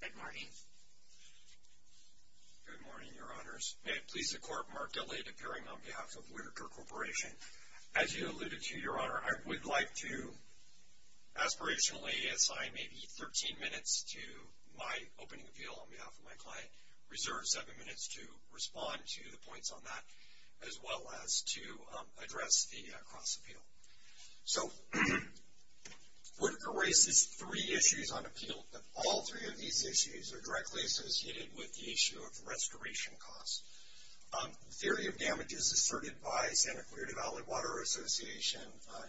Good morning. Good morning, Your Honors. May it please the Court, Mark Elliott, appearing on behalf of Whittaker Corporation. As you alluded to, Your Honor, I would like to aspirationally assign maybe 13 minutes to my opening appeal on behalf of my client, reserve seven minutes to respond to the points on that, as well as to address the cross-appeal. So, Whittaker raises three issues on appeal, and all three of these issues are directly associated with the issue of restoration costs. The theory of damage is asserted by Santa Clarita Valley Water Association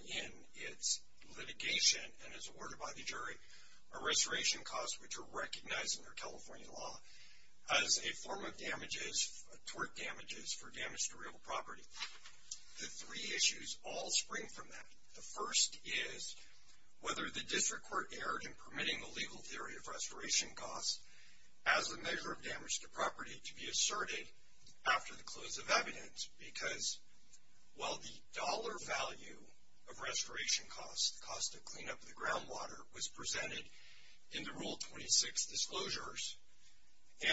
in its litigation and is awarded by the jury. Restoration costs, which are recognized in their California law, as a form of damages, tort damages, for damage to real property. The three issues all spring from that. The first is whether the district court erred in permitting the legal theory of restoration costs as a measure of damage to property to be asserted after the close of evidence, because while the dollar value of restoration costs, the cost of cleanup of the groundwater, was presented in the Rule 26 disclosures,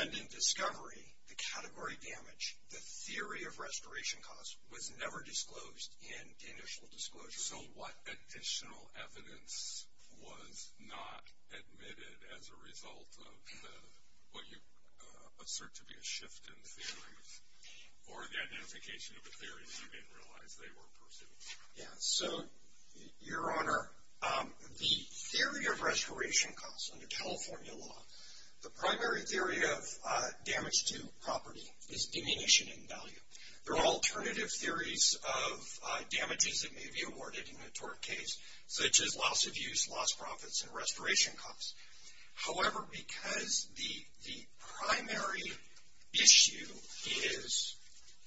and in discovery, the category damage, the theory of restoration costs, was never disclosed in initial disclosure. So what additional evidence was not admitted as a result of what you assert to be a shift in the theory, or the identification of a theory that you didn't realize they were pursuing? So, Your Honor, the theory of restoration costs under California law, the primary theory of damage to property is diminution in value. There are alternative theories of damages that may be awarded in the tort case, such as loss of use, loss of profits, and restoration costs. However, because the primary issue is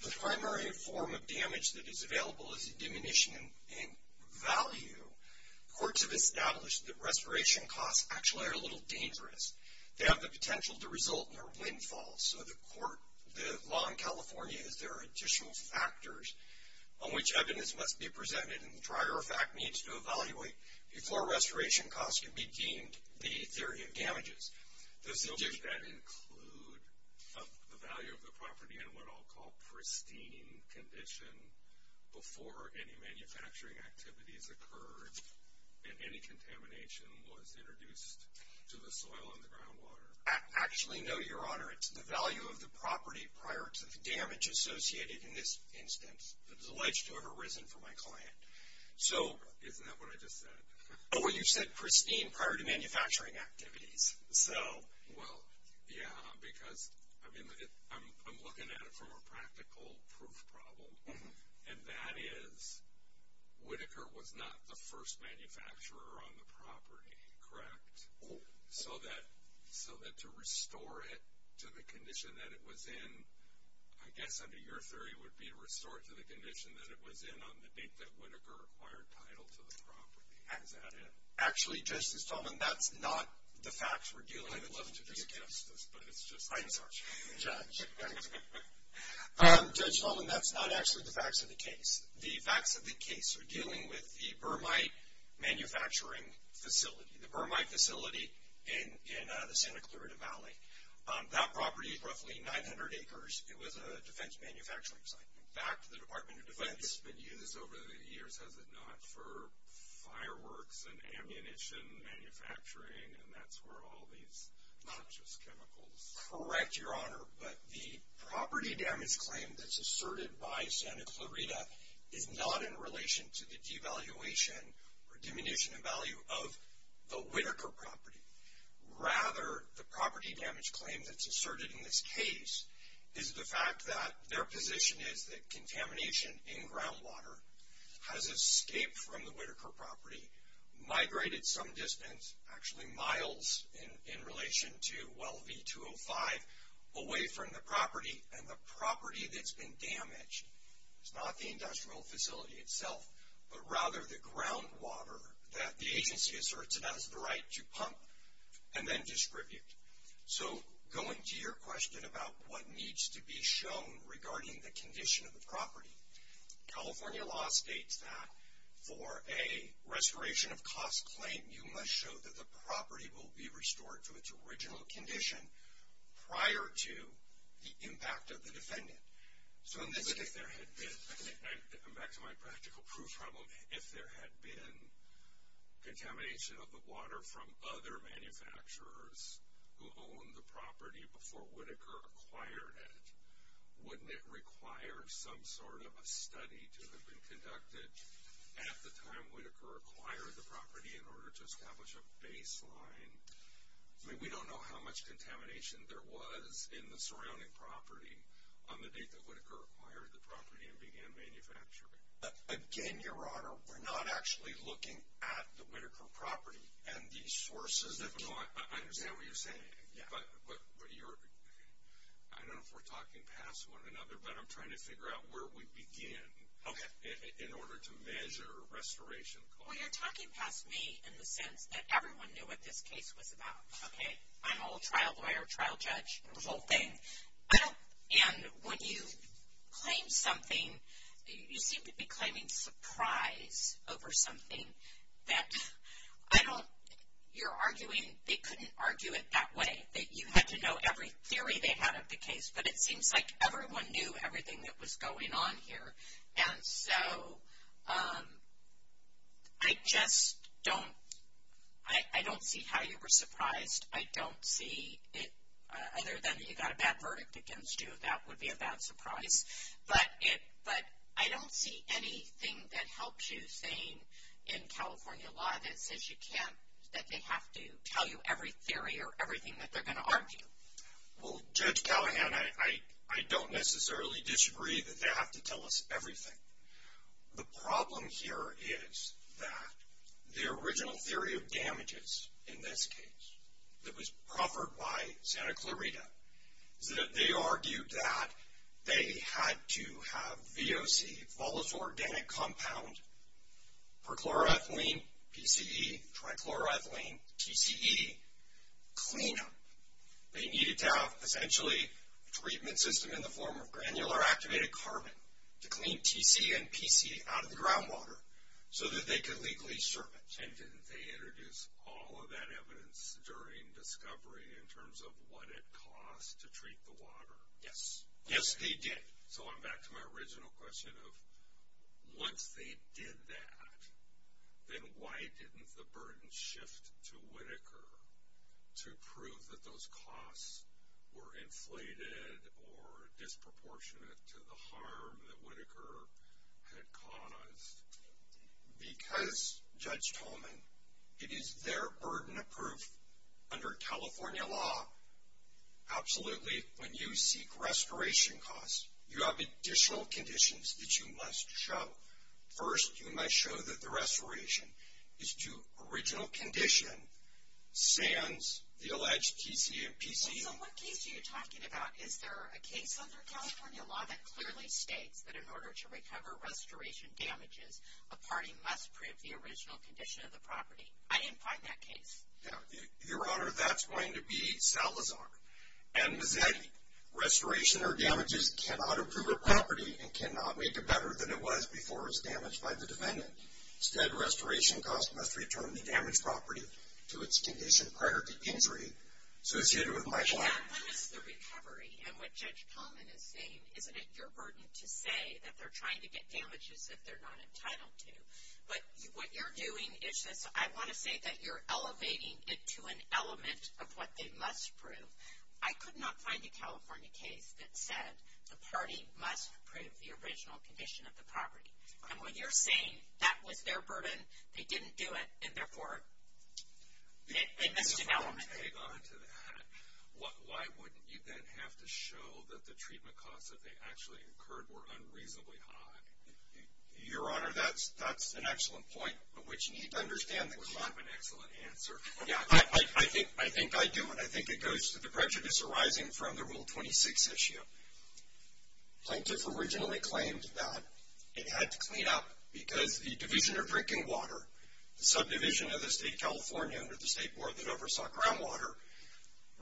the primary form of damage that is available is a diminution in value, courts have established that restoration costs actually are a little dangerous. They have the potential to result in a windfall. So the law in California is there are additional factors on which evidence must be presented and, as a matter of fact, needs to evaluate before restoration costs can be deemed the theory of damages. Does your view that include the value of the property in what I'll call pristine condition before any manufacturing activities occurred and any contamination was introduced to the soil and the groundwater? I actually know, Your Honor, it's the value of the property prior to the damage associated in this instance. It's alleged to have arisen from my client. Isn't that what I just said? Well, you said pristine prior to manufacturing activities. Well, yeah, because I'm looking at it from a practical proof problem, and that is Whitaker was not the first manufacturer on the property, correct? So that to restore it to the condition that it was in, I guess, under your theory, it would be to restore it to the condition that it was in on the date that Whitaker acquired title to the property. Is that it? Actually, Justice Sullivan, that's not the facts we're dealing with. I'd love to do a test of this, but it's just fine. Judge Sullivan, that's not actually the facts of the case. The facts of the case are dealing with the Bermite manufacturing facility, the Bermite facility in the Santa Clarita Valley. That property is roughly 900 acres. It was a defense manufacturing site. In fact, the Department of Defense has been used over the years, has it not, for fireworks and ammunition manufacturing, and that's where all these not just chemicals. Correct, Your Honor, but the property damage claim that's asserted by Santa Clarita is not in relation to the devaluation or diminution in value of the Whitaker property. Rather, the property damage claim that's asserted in this case is the fact that their position is that contamination in groundwater has escaped from the Whitaker property, migrated some distance, actually miles, in relation to well V-205 away from the property, and the property that's been damaged is not the industrial facility itself, but rather the groundwater that the agency asserts it has the right to pump and then distribute. So going to your question about what needs to be shown regarding the condition of the property, California law states that for a restoration of cost claim, you must show that the property will be restored to its original condition prior to the impact of the defendant. So in this case, if there had been, I'm back to my practical proof problem, if there had been contamination of the water from other manufacturers who owned the property before Whitaker acquired it, wouldn't it require some sort of a study to have been conducted at the time Whitaker acquired the property in order to establish a baseline? We don't know how much contamination there was in the surrounding property on the date that Whitaker acquired the property and began manufacturing. Again, Your Honor, we're not actually looking at the Whitaker property and the sources. I understand what you're saying, but I don't know if we're talking past one another, but I'm trying to figure out where we begin in order to measure restoration costs. Well, you're talking past me in the sense that everyone knew what this case was about, okay? I'm all trial lawyer, trial judge, the whole thing. And when you claim something, you seem to be claiming surprise over something that I don't think you're arguing. They couldn't argue it that way. You have to know every theory they had of the case, but it seems like everyone knew everything that was going on here. And so I just don't see how you were surprised. I don't see it, other than if you got a bad verdict against you, that would be a bad surprise. But I don't see anything that helps you saying in California law that says you can't, that they have to tell you every theory or everything that they're going to argue. Well, Judge Callahan, I don't necessarily disagree that they have to tell us everything. The problem here is that the original theory of damages in this case that was proffered by Santa Clarita, they argued that they had to have VOC, volatile organic compounds, for chloroethylene, PCE, trichloroethylene, TCE cleanup. They needed to have essentially a treatment system in the form of granular activated carbon to clean TCE and PCE out of the groundwater so that they could legally strip it. And didn't they introduce all of that evidence during discovery in terms of what it cost to treat the water? Yes. Yes, they did. So I'm back to my original question of once they did that, then why didn't the burden shift to Whitaker to prove that those costs were inflated or disproportionate to the harm that Whitaker had caused? Because, Judge Tolman, it is their burden of proof under California law. Absolutely, when you seek restoration costs, you have additional conditions that you must show. First, you must show that the restoration is to original condition sans the alleged TCE and PCE. What case are you talking about? Is there a case under California law that clearly states that in order to recover restoration damages, a party must print the original condition of the property? I didn't find that case. Your Honor, that's going to be Salazar, and that restoration or damages cannot improve a property and cannot make it better than it was before it was damaged by the defendant. Instead, restoration costs must return the damaged property to its condition prior to injury. That's the recovery, and what Judge Tolman is saying is that it's your burden to say that they're trying to get damages that they're not entitled to. But what you're doing is I want to say that you're elevating it to an element of what they must prove. I could not find a California case that says the party must prove the original condition of the property. And when you're saying that was their burden, they didn't do it, I think that's an element of it. Why wouldn't you then have to show that the treatment costs that they actually incurred were unreasonably high? Your Honor, that's an excellent point, which you need to understand that's not an excellent answer. I think I do, and I think it goes to the prejudice arising from the Rule 26 issue. Scientists originally claimed that it had to clean up because the division of drinking water, the subdivision of the State of California under the State Board that oversaw groundwater,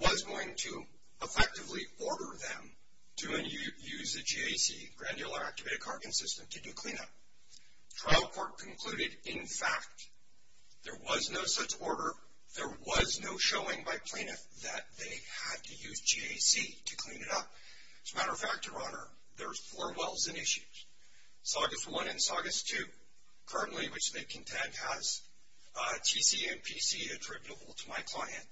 was going to effectively order them to use a GAC, granular activated carbon system, to do cleanup. Trial court concluded, in fact, there was no such order. There was no showing by plaintiff that they had to use GAC to clean it up. As a matter of fact, Your Honor, there are four wells in issue, Saugus I and Saugus II, currently, which they contend, has GTMPC attributable to my client.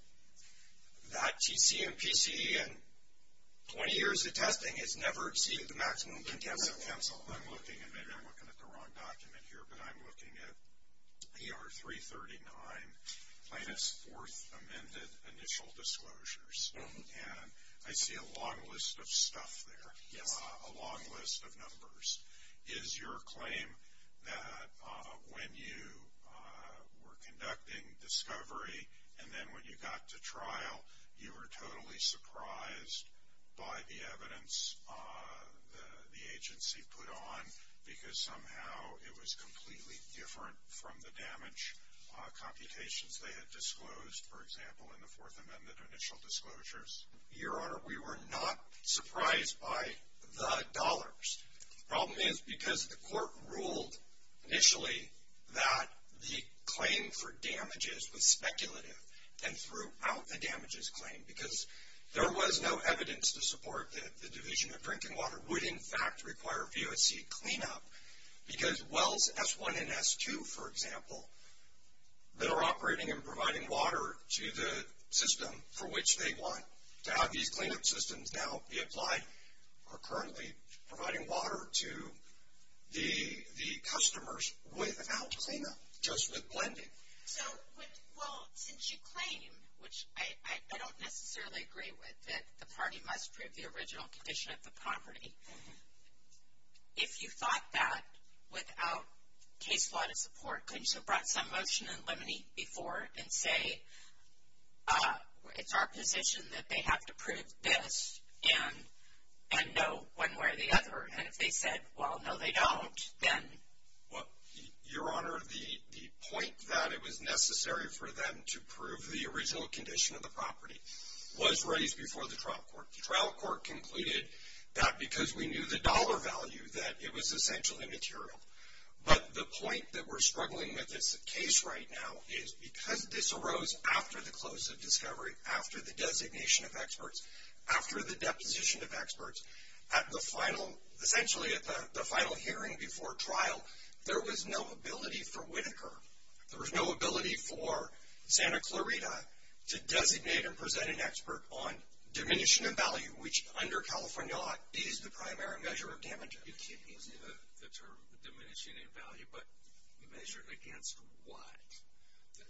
That GTMPC, in 20 years of testing, has never exceeded the maximum limit given to counsel. I'm looking, and maybe I'm looking at the wrong document here, but I'm looking at PR339, Plaintiff's Fourth Amended Initial Disclosures, and I see a long list of stuff there, a long list of numbers. Is your claim that when you were conducting discovery, and then when you got to trial, you were totally surprised by the evidence the agency put on, because somehow it was completely different from the damage computations they had disclosed, for example, in the Fourth Amended Initial Disclosures? Your Honor, we were not surprised by the dollars. The problem is because the court ruled initially that the claim for damages was speculative, and threw out the damages claim because there was no evidence to support that the Division of Drinking Water would, in fact, require VOC cleanup, because wells S1 and S2, for example, that are operating and providing water to the system for which they want to have these cleanup systems now be applied are currently providing water to the customers without cleanup, just with blending. Well, since you claim, which I don't necessarily agree with, that the party must prove the original condition of the property, if you thought that without case law to support, couldn't you have brought some motion in limine before and say it's our position that they have to prove this and know one way or the other, and if they said, well, no, they don't, then? Your Honor, the point that it was necessary for them to prove the original condition of the property was raised before the trial court. The trial court concluded that because we knew the dollar value, that it was essentially material. But the point that we're struggling with at the case right now is because this arose after the close of discovery, after the designation of experts, after the deposition of experts, essentially at the final hearing before trial, there was no ability for Whitaker, there was no ability for Santa Clarita to designate and present an expert on diminishing of value, which under California law is the primary measure of damage. The term diminishing of value, but measured against what?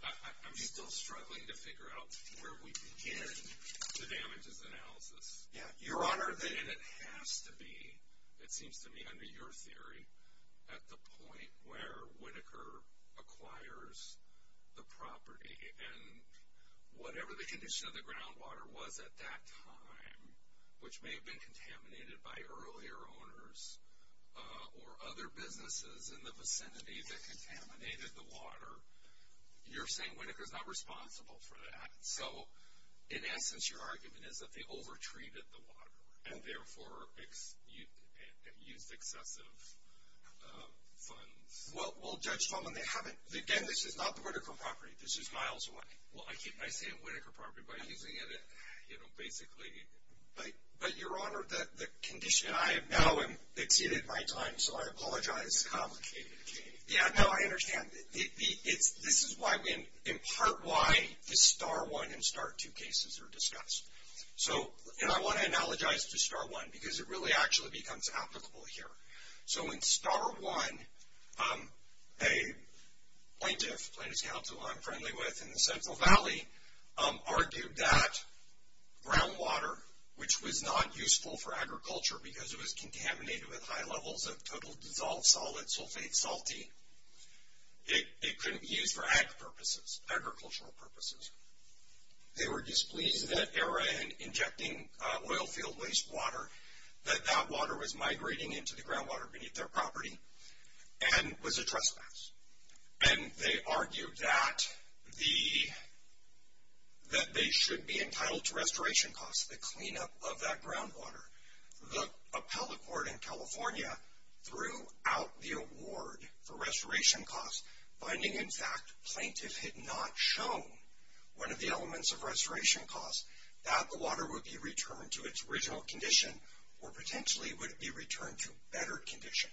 I'm still struggling to figure out where we begin to damage this analysis. Your Honor, it has to be, it seems to me, under your theory, at the point where Whitaker acquires the property, and whatever the condition of the groundwater was at that time, which may have been contaminated by earlier owners or other businesses in the vicinity that contaminated the water, you're saying Whitaker's not responsible for that. So in essence, your argument is that they over-treated the water, and therefore used excessive funds. Well, Judge Tolman, they haven't. Again, this is not the Whitaker property. This is miles away. Well, I keep saying Whitaker property by using it as a hack, you know, basically. But, Your Honor, the condition I have now, and they did it in my time, so I apologize. It's a complicated case. Yeah, no, I understand. This is in part why the Star 1 and Star 2 cases are discussed. And I want to analogize to Star 1, because it really actually becomes applicable here. So in Star 1, a plaintiff, the plaintiff's counsel who I'm friendly with in the Central Valley, argued that groundwater, which was not useful for agriculture because it was contaminated with high levels of total dissolved solid sulfate sulfate, it couldn't be used for agricultural purposes. They were displeased in that era in injecting oil field wastewater, that that water was migrating into the groundwater beneath their property and was a trespass. And they argued that they should be entitled to restoration costs, the cleanup of that groundwater. The appellate court in California threw out the award for restoration costs, finding, in fact, plaintiffs had not shown one of the elements of restoration costs, that the water would be returned to its original condition or potentially would be returned to a better condition.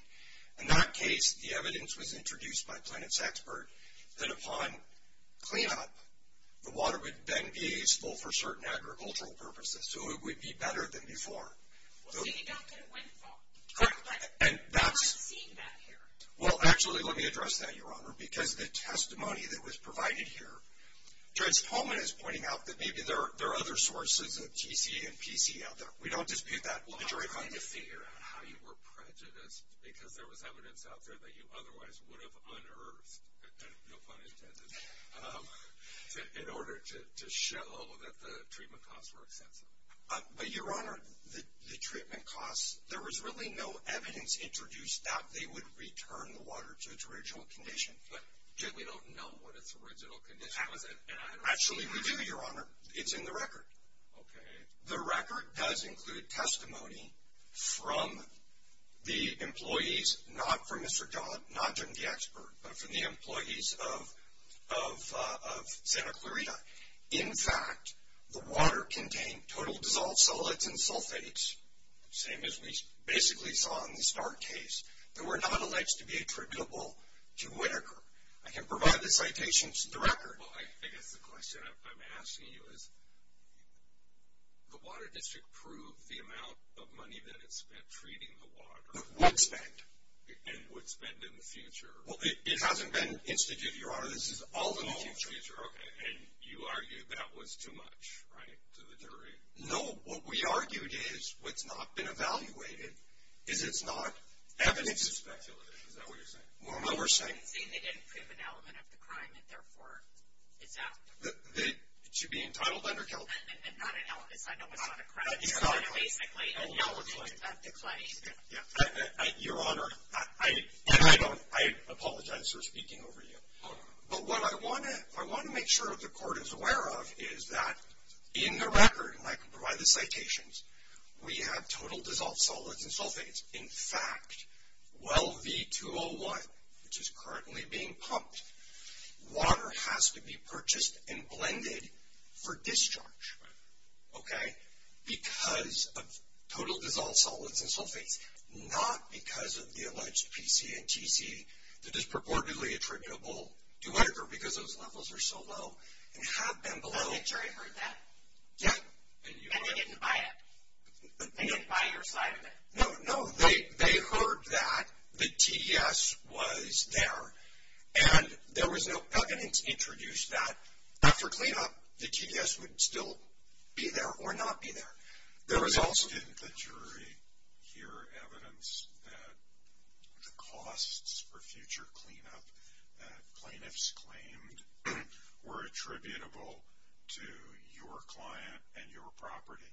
In that case, the evidence was introduced by a plaintiff's expert that upon cleanup, the water would then be usable for certain agricultural purposes, so it would be better than before. Well, he got that when he talked about it. And that's... He did that here. Well, actually, let me address that, Your Honor, because the testimony that was provided here, Trent's poem is pointing out that maybe there are other sources of T.T. and P.T. out there. We don't dispute that. We're trying to figure out how you were prejudiced, because there was evidence out there that you otherwise would have unearthed, no pun intended, in order to show that the treatment costs were excessive. But, Your Honor, the treatment costs, there was really no evidence introduced that they would return the water to its original condition, but we don't know what its original condition was. Actually, we do, Your Honor. It's in the record. Okay. The record does include testimony from the employees, not from Mr. John, not from the expert, but from the employees of Santa Clarita. In fact, the water contained total dissolved cellulite and sulfates, same as we basically saw in the Stark case, and were not alleged to be attributable to Whitaker. I can provide the citations to the record. Well, I guess the question I'm asking you is, the water district proved the amount of money that it spent treating the water. It was spent. And would spend in the future. Well, it hasn't been instituted, Your Honor. This is all in the future. All in the future. Okay. And you argued that was too much, right, to the jury? No. What we argued is what's not been evaluated is it's not evidence of speculation. Is that what you're saying? Well, no, we're saying they didn't prove an element of the crime, and, therefore, it's out. It should be entitled under guilt. It's not an element. It's not an element of the crime. It's not. It's basically an element of the claim. Your Honor, I apologize for speaking over you. Oh, no. But what I want to make sure the Court is aware of is that in the record, in my provided citations, we have total dissolved solids and sulfates. In fact, well B-201, which is currently being pumped, water has to be purchased and blended for discharge, okay, because of total dissolved solids and sulfates, not because of the alleged PC and GT that is purportedly attributable to Edgar because those levels are so low and have been below. The jury heard that? Yeah. And they didn't buy it? They didn't buy your slide of it? No, no. They heard that the TDS was there. And there was no evidence to introduce that. After cleanup, the TDS would still be there or not be there. There was also. Didn't the jury hear evidence that the costs for future cleanup that is attributable to your client and your property?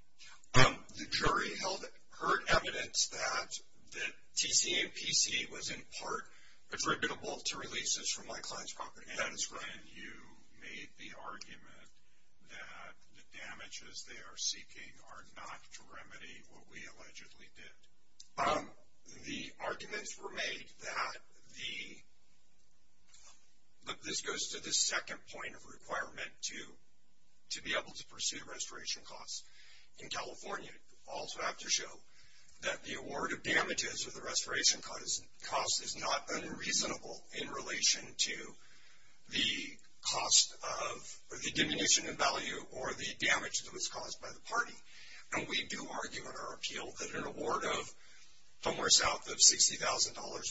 The jury held current evidence that the TC and PC was in part attributable to releases from my client's property. That is right. And you made the argument that the damages they are seeking are not to remedy what we allegedly did. The arguments were made that the – this goes to the second point of how to be able to pursue restoration costs in California. You also have to show that the award of damages or the restoration cost is not unreasonable in relation to the cost of the diminution in value or the damage that was caused by the party. And we do argue in our appeal that an award of somewhere south of $60,000,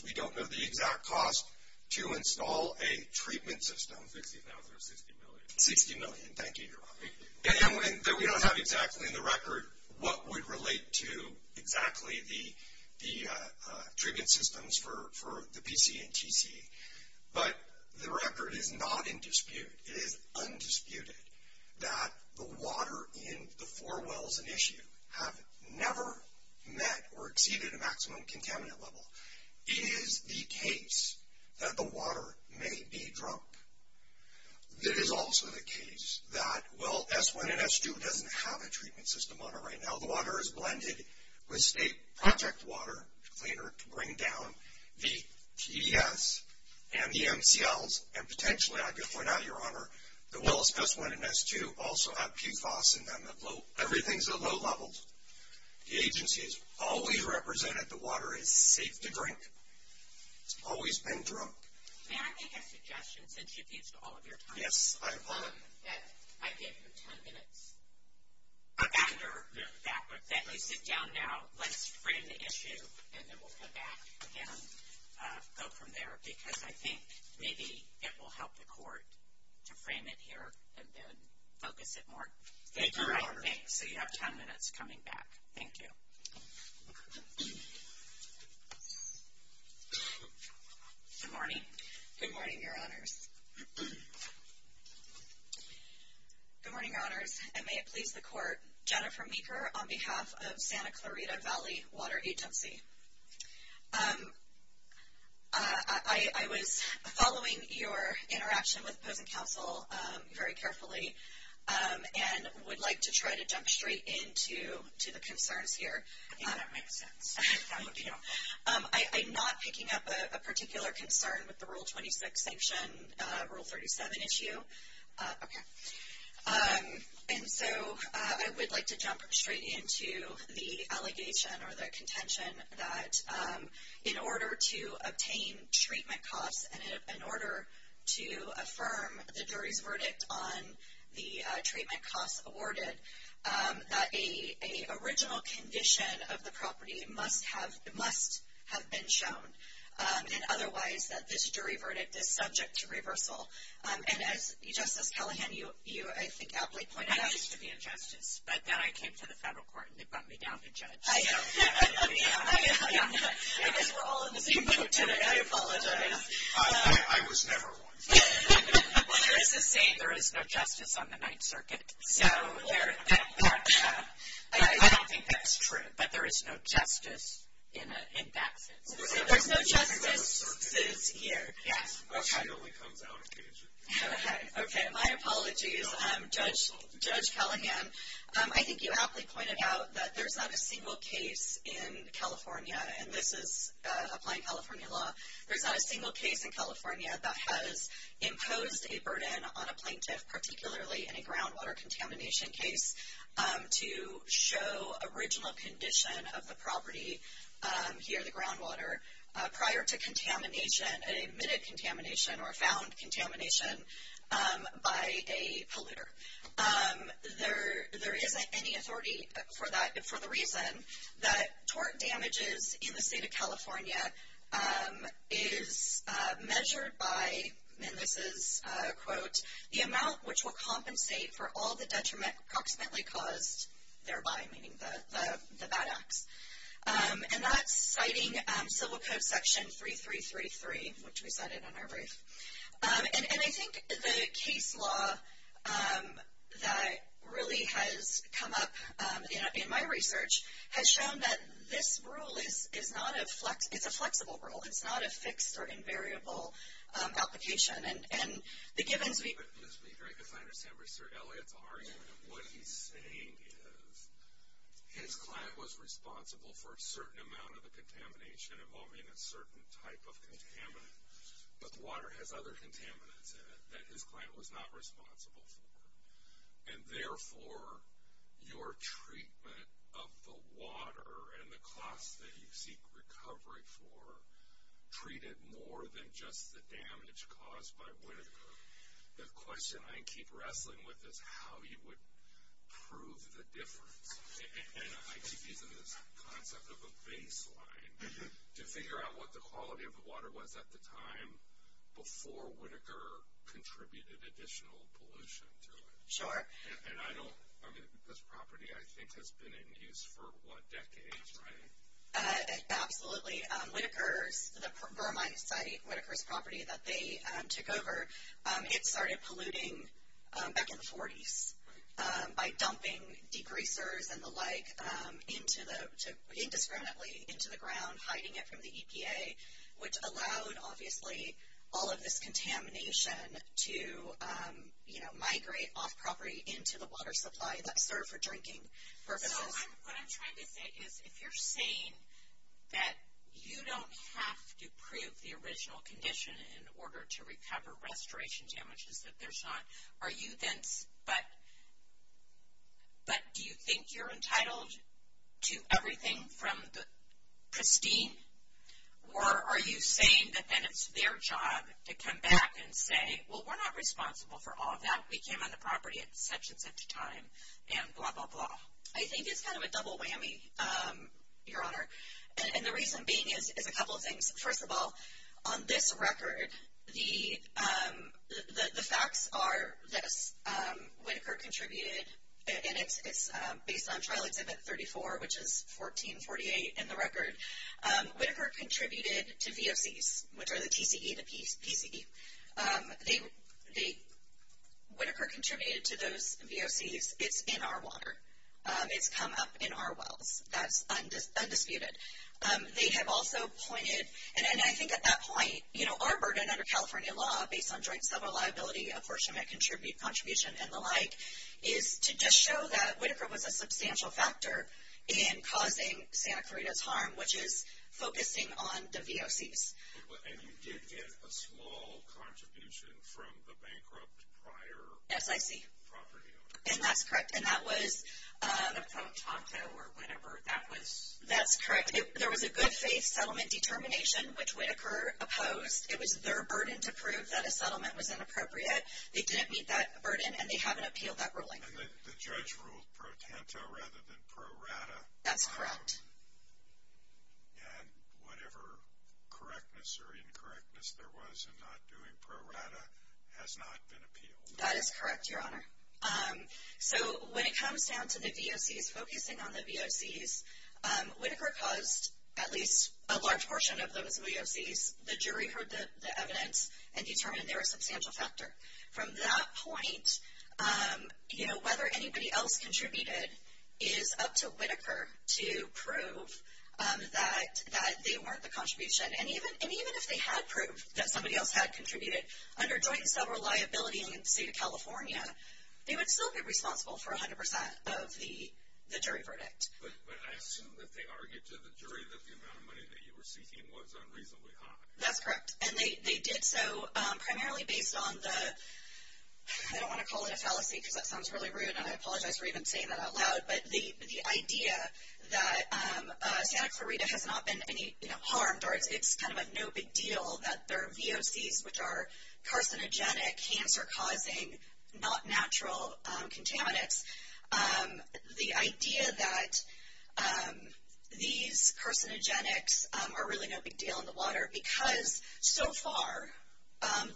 we don't know the exact cost to install a treatment system. $60,000 or $60 million? $60 million. Thank you. We don't have exactly in the record what would relate to exactly the treatment systems for the PC and TC. But the record is not in dispute. It is undisputed that the water in the four wells at issue have never met or exceeded maximum contaminant level. It is the case that the water may be drunk. It is also the case that well S1 and S2 doesn't have a treatment system on it right now. The water is blended with state project water to bring down the TES and the MCLs. And potentially, I guess we're not here on her, the wells S1 and S2 also have PFAS in them. Everything is at low levels. The agency has always represented the water in the drink. It's always been drunk. May I make a suggestion, since you've used all of your time? Yes, I have. That idea for 10 minutes. After we sit down now, let's frame the issue, and then we'll go back again, go from there, because I think maybe it will help the Court to frame it here and then focus it more. So you have 10 minutes coming back. Thank you. Good morning. Good morning, Your Honors. Good morning, Your Honors, and may it please the Court, Jennifer Meeker on behalf of Santa Clarita Valley Water Agency. I was following your interaction with Potent Counsel very carefully and would like to try to jump straight into the concerns here. I'm not picking up a particular concern with the Rule 26 sanction, Rule 37 issue. Okay. And so I would like to jump straight into the allegation or the contention that in order to obtain treatment costs and in order to affirm the jury verdict on the treatment costs awarded, that an original condition of the property must have been shown, and otherwise that this jury verdict is subject to reversal. And as Justice Tullohan, you, I think, outweighed plans to be a justice. But then I came to the federal court, and they brought me down to justice. I apologize. I was never one. There is no justice on the Ninth Circuit. No, there is not. I don't think that's true, that there is no justice in that. There is no justice this year. Okay. Okay, my apology, Judge Tullohan. I think you awfully pointed out that there's not a single case in California, and this is applying California law. There's not a single case in California that has imposed a burden on a plaintiff, particularly in a groundwater contamination case, to show original condition of the property here, the groundwater, prior to contamination, admitted contamination or found contamination by a polluter. There isn't any authority for that, for the reason that tort damages in the State of California is measured by, and this is a quote, the amount which will compensate for all the detriment approximately caused thereby, meaning the bad act. And that's citing Civil Code Section 3333, which we cited in our brief. And I think the case law that really has come up in my research has shown that this rule is a flexible rule. It's not a fixed or invariable application. This would be great to find Mr. Elliot Barrington. What he's saying is his client was responsible for a certain amount of the contamination involving a certain type of contaminant, but the water has other contaminants in it that his client was not responsible for. And, therefore, your treatment of the water and the costs that you seek recovery for treated more than just the damage caused by Whittaker. The question I keep wrestling with is how you would prove the difference. And I think even this concept of a baseline, to figure out what the quality of the water was at the time before Whittaker contributed additional pollution to it. Sure. And I don't, I mean, this property, I think, has been in use for, what, decades, right? Absolutely. Whittaker, the Burmite site, Whittaker's property that they took over, it started polluting back in the 40s by dumping degreasers and the like indiscriminately into the ground, hiding it from the EPA, which allowed, obviously, all of this contamination to, you know, migrate off property into the water supply that served for drinking purposes. So what I'm trying to say is, if you're saying that you don't have to prove the original condition in order to recover restoration damages that they're shot, are you then, but do you think you're entitled to everything from the pristine? Or are you saying that then it's their job to come back and say, well, we're not responsible for all of that. We came on the property at such and such time and blah, blah, blah. I think it's kind of a double whammy, Your Honor, and the reason being is a couple of things. First of all, on this record, the facts are that Whittaker contributed, and again, it's based on Charlie's edit 34, which is 1448 in the record. Whittaker contributed to VOCs, which are the PCE, the PCE. Whittaker contributed to those VOCs. It's in our water. It's come up in our wells. That's undisputed. They have also pointed, and I think at that point, you know, our burden under California law, based on joint civil liability, unfortunate contribution, and the like, is to just show that Whittaker was a substantial factor in causing, say, on the VOCs. And you did get a small contribution from the bankrupt prior property owner. Yes, I did. And that's correct. And that was pro tanto or whatever that was. That's correct. There was a good faith settlement determination, which Whittaker opposed. It was their burden to prove that a settlement was inappropriate. They didn't meet that burden, and they had to appeal that ruling. And the judge ruled pro tanto rather than pro rata. That's correct. And whatever correctness or incorrectness there was in not doing pro rata has not been appealed. That is correct, Your Honor. So when it comes down to the VOCs, focusing on the VOCs, Whittaker caused at least a large portion of those VOCs, the jury heard the evidence and determined they were a substantial factor. From that point, you know, whatever anybody else contributed is up to Whittaker to prove that they weren't the contribution. And even if they had proved that somebody else had contributed under joint and several liability in the state of California, they would still be responsible for 100% of the jury verdict. But I assume that they argued to the jury that the amount of money that you were seeking was unreasonably high. That's correct. And they did so primarily based on the, I don't want to call it a fallacy because that sounds really rude, and I apologize for even saying that out loud, but the idea that Danica Rita has not been harmed or it's kind of a no big deal that there are VOCs, which are carcinogenic, cancer-causing, not natural contaminants. The idea that these carcinogenics are really no big deal in the water because so far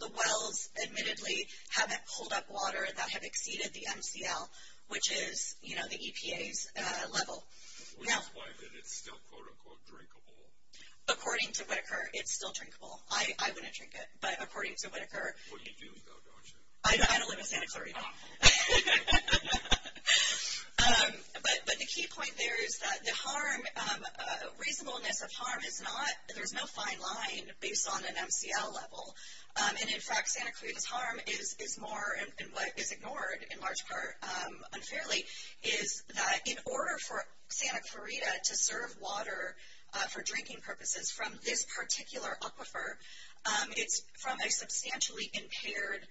the wells admittedly haven't pulled up water, that have exceeded the MCL, which is, you know, the EPA's level. We find that it's still, quote, unquote, drinkable. According to Whittaker, it's still drinkable. I wouldn't drink it, but according to Whittaker. What are you doing about that? I don't live in Santa Clarita. But the key point there is that the harm, reasonable amounts of harm, there's no fine line based on an MCL level. And, in fact, Santa Clarita's harm is more, and what is ignored in large part unfairly, is that in order for Santa Clarita to serve water for drinking purposes from this particular aquifer, it's from a substantially impaired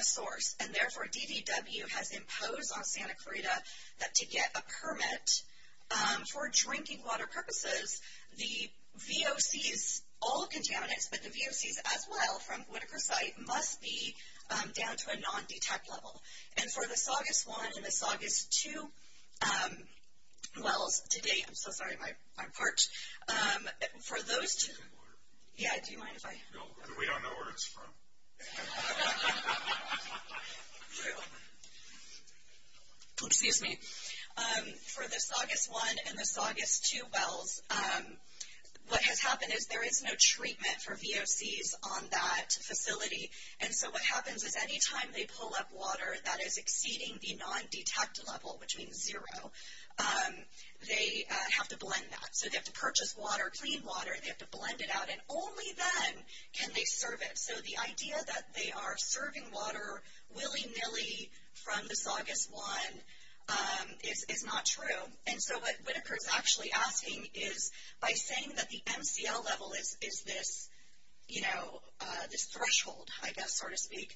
source. And, therefore, DDW has imposed on Santa Clarita that to get a permit for drinking water for drinking purposes, the VOCs, all contaminants, but the VOCs as well from Whittaker site must be down to a non-detect level. And for this August 1 and this August 2 wells to date, I'm so sorry, my part, for those to – yeah, do you mind if I – No, we don't know where it's from. Excuse me. For this August 1 and this August 2 wells, what has happened is there is no treatment for VOCs on that facility. And so what happens is any time they pull up water that is exceeding the non-detect level, which means zero, they have to blend that. So they have to purchase water, clean water, and they have to blend it out. And only then can they serve it. So the idea that they are serving water willy-nilly from this August 1 is not true. And so what Whittaker is actually asking is by saying that the MCL level is this, you know, this threshold, I guess, so to speak,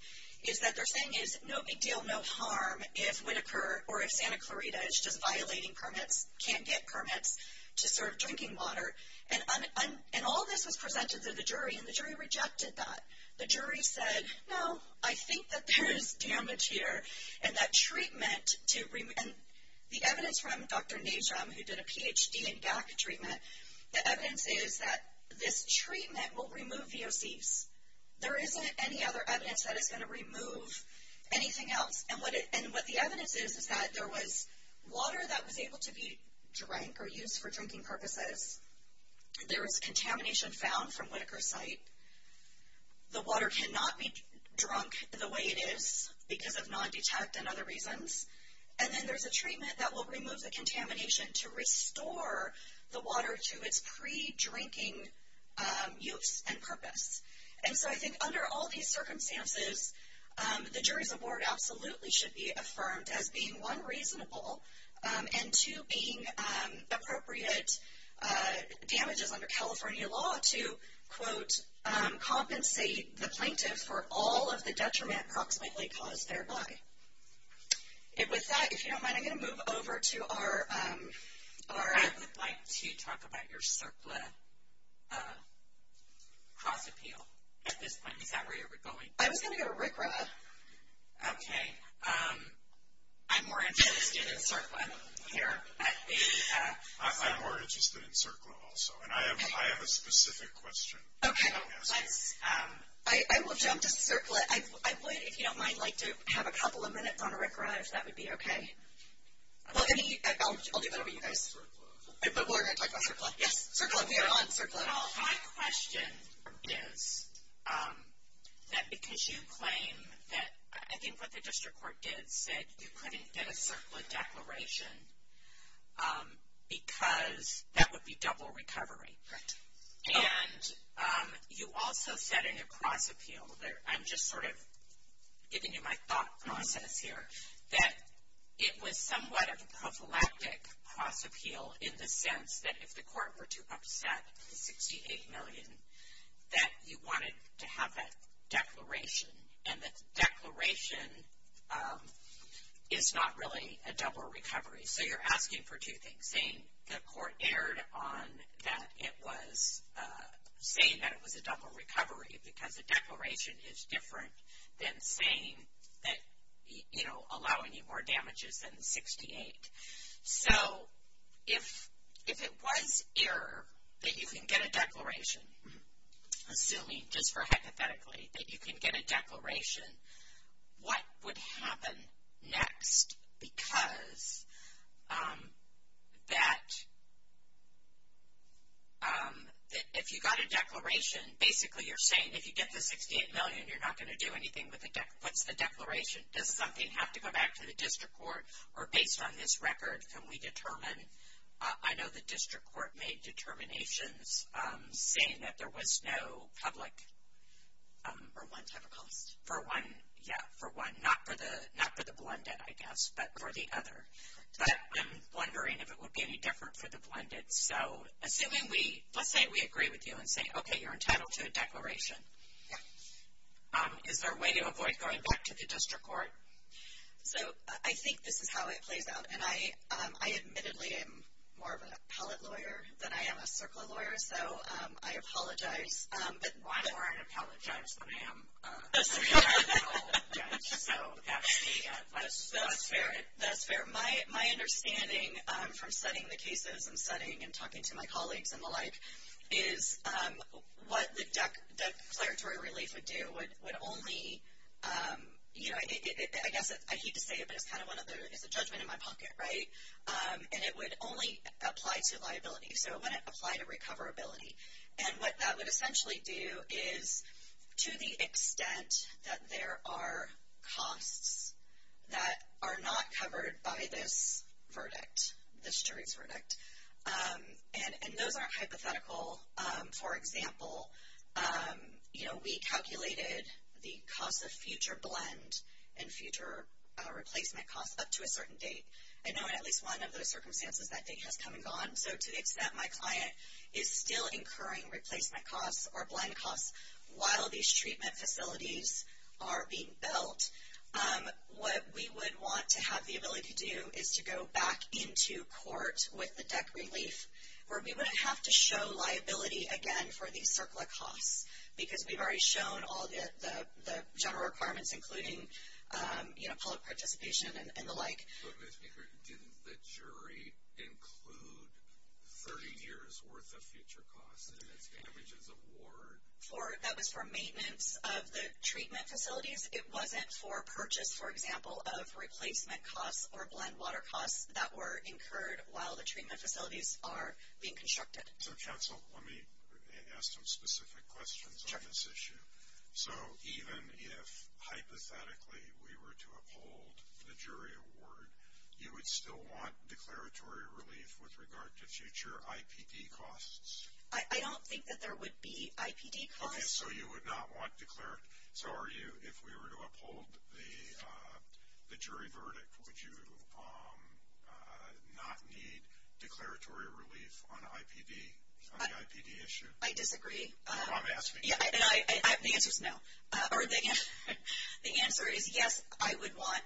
is that they're saying is no big deal, no harm if Whittaker or if Santa Clarita is just violating permits, can't get permits to serve drinking water. And all of this was presented to the jury, and the jury rejected that. The jury said, no, I think that there is damage here, and that treatment to – and the evidence from Dr. Najram, who did a PhD in DACA treatment, the evidence is that this treatment will remove VOCs. There isn't any other evidence that it's going to remove anything else. And what the evidence is is that there was water that was able to be used for drinking purposes. There was contamination found from Whittaker's site. The water could not be drunk the way it is because of non-detect and other reasons. And then there's a treatment that will remove the contamination to restore the water to its pre-drinking use and purpose. And so I think under all these circumstances, the jury's award absolutely should be affirmed as being, one, reasonable, and, two, being appropriate damages under California law to, quote, compensate the plaintiff for all of the detriment approximately caused thereby. And with that, if you don't mind, I'm going to move over to our – Laura, I would like to talk about your surplus cost appeal. Is that where you were going? I was going to go to RCRA. Okay. I'm more interested in surplus here. I'm more interested in surplus also. And I have a specific question. Okay. I will jump to surplus. If you don't mind, I'd like to have a couple of minutes on RCRA, if that would be okay. I'll do that over to you guys. But we're going to talk about surplus. Yes, surplus. We are on surplus. Well, it all has questions for this. That's because you claim that, I think what the district court did, said you couldn't get a surplus declaration because that would be double recovery. Right. And you also said in your cost appeal, I'm just sort of giving you my thought process here, that it was somewhat a prophylactic cost appeal in the sense that if the cost was $68 million that you wanted to have that declaration. And the declaration is not really a double recovery. So you're asking for two things, saying the court erred on that it was saying that it was a double recovery because the declaration is different than saying that, you know, allowing you more damages than 68. So if it was error that you can get a declaration, just hypothetically, that you can get a declaration, what would happen next? Because if you got a declaration, basically you're saying if you get the 68 million, you're not going to do anything with a declaration. Does the company have to go back to the district court? Or based on this record, can we determine? I know the district court made determinations saying that there was no public for one set of loans. For one, yeah, for one. Not for the blended, I guess, but for the other. But I'm wondering if it would be any different for the blended. So let's say we agree with you and say, okay, you're entitled to a declaration. Is there a way to avoid going back to the district court? So I think this is how it played out. And I admittedly am more of a pallet lawyer than I am a circle of lawyers, so I apologize. But more I apologize than I am. So that's fair. That's fair. My understanding from studying the cases and studying and talking to my colleagues and the like is what the declaratory relief would do would only, you know, I hate to say it, but it's kind of one of those, it's a judgment in my pocket, right? And it would only apply to liability. So it wouldn't apply to recoverability. And what that would essentially do is, to the extent that there are costs that are not covered by this verdict, this jury verdict, and those aren't hypothetical. For example, you know, we calculated the cost of future blend and future replacement costs up to a certain date. I know at least one of those circumstances I think has come and gone. So to the extent my client is still incurring replacement costs or blend costs while these treatment facilities are being built, what we would want to have the ability to do is to go back into court with the DEC relief where we would have to show liability, again, for these surplus costs. Because we've already shown all the general requirements, including, you know, public participation and the like. But didn't the jury include 30 years' worth of future costs, damages of war? That was for maintenance of the treatment facilities. It wasn't for purchase, for example, of replacement costs or blend water costs that were incurred while the facilities are being constructed. So, Chancellor, let me ask some specific questions on this issue. So even if, hypothetically, we were to uphold the jury award, you would still want declaratory relief with regard to future IPD costs? I don't think that there would be IPD costs. Okay, so you would not want declaratory. So if we were to uphold the jury verdict, would you not need declaratory relief on IPD, on the IPD issue? I disagree. I'm asking. Yeah, and I have the answer, no. Or the answer is, yes, I would want.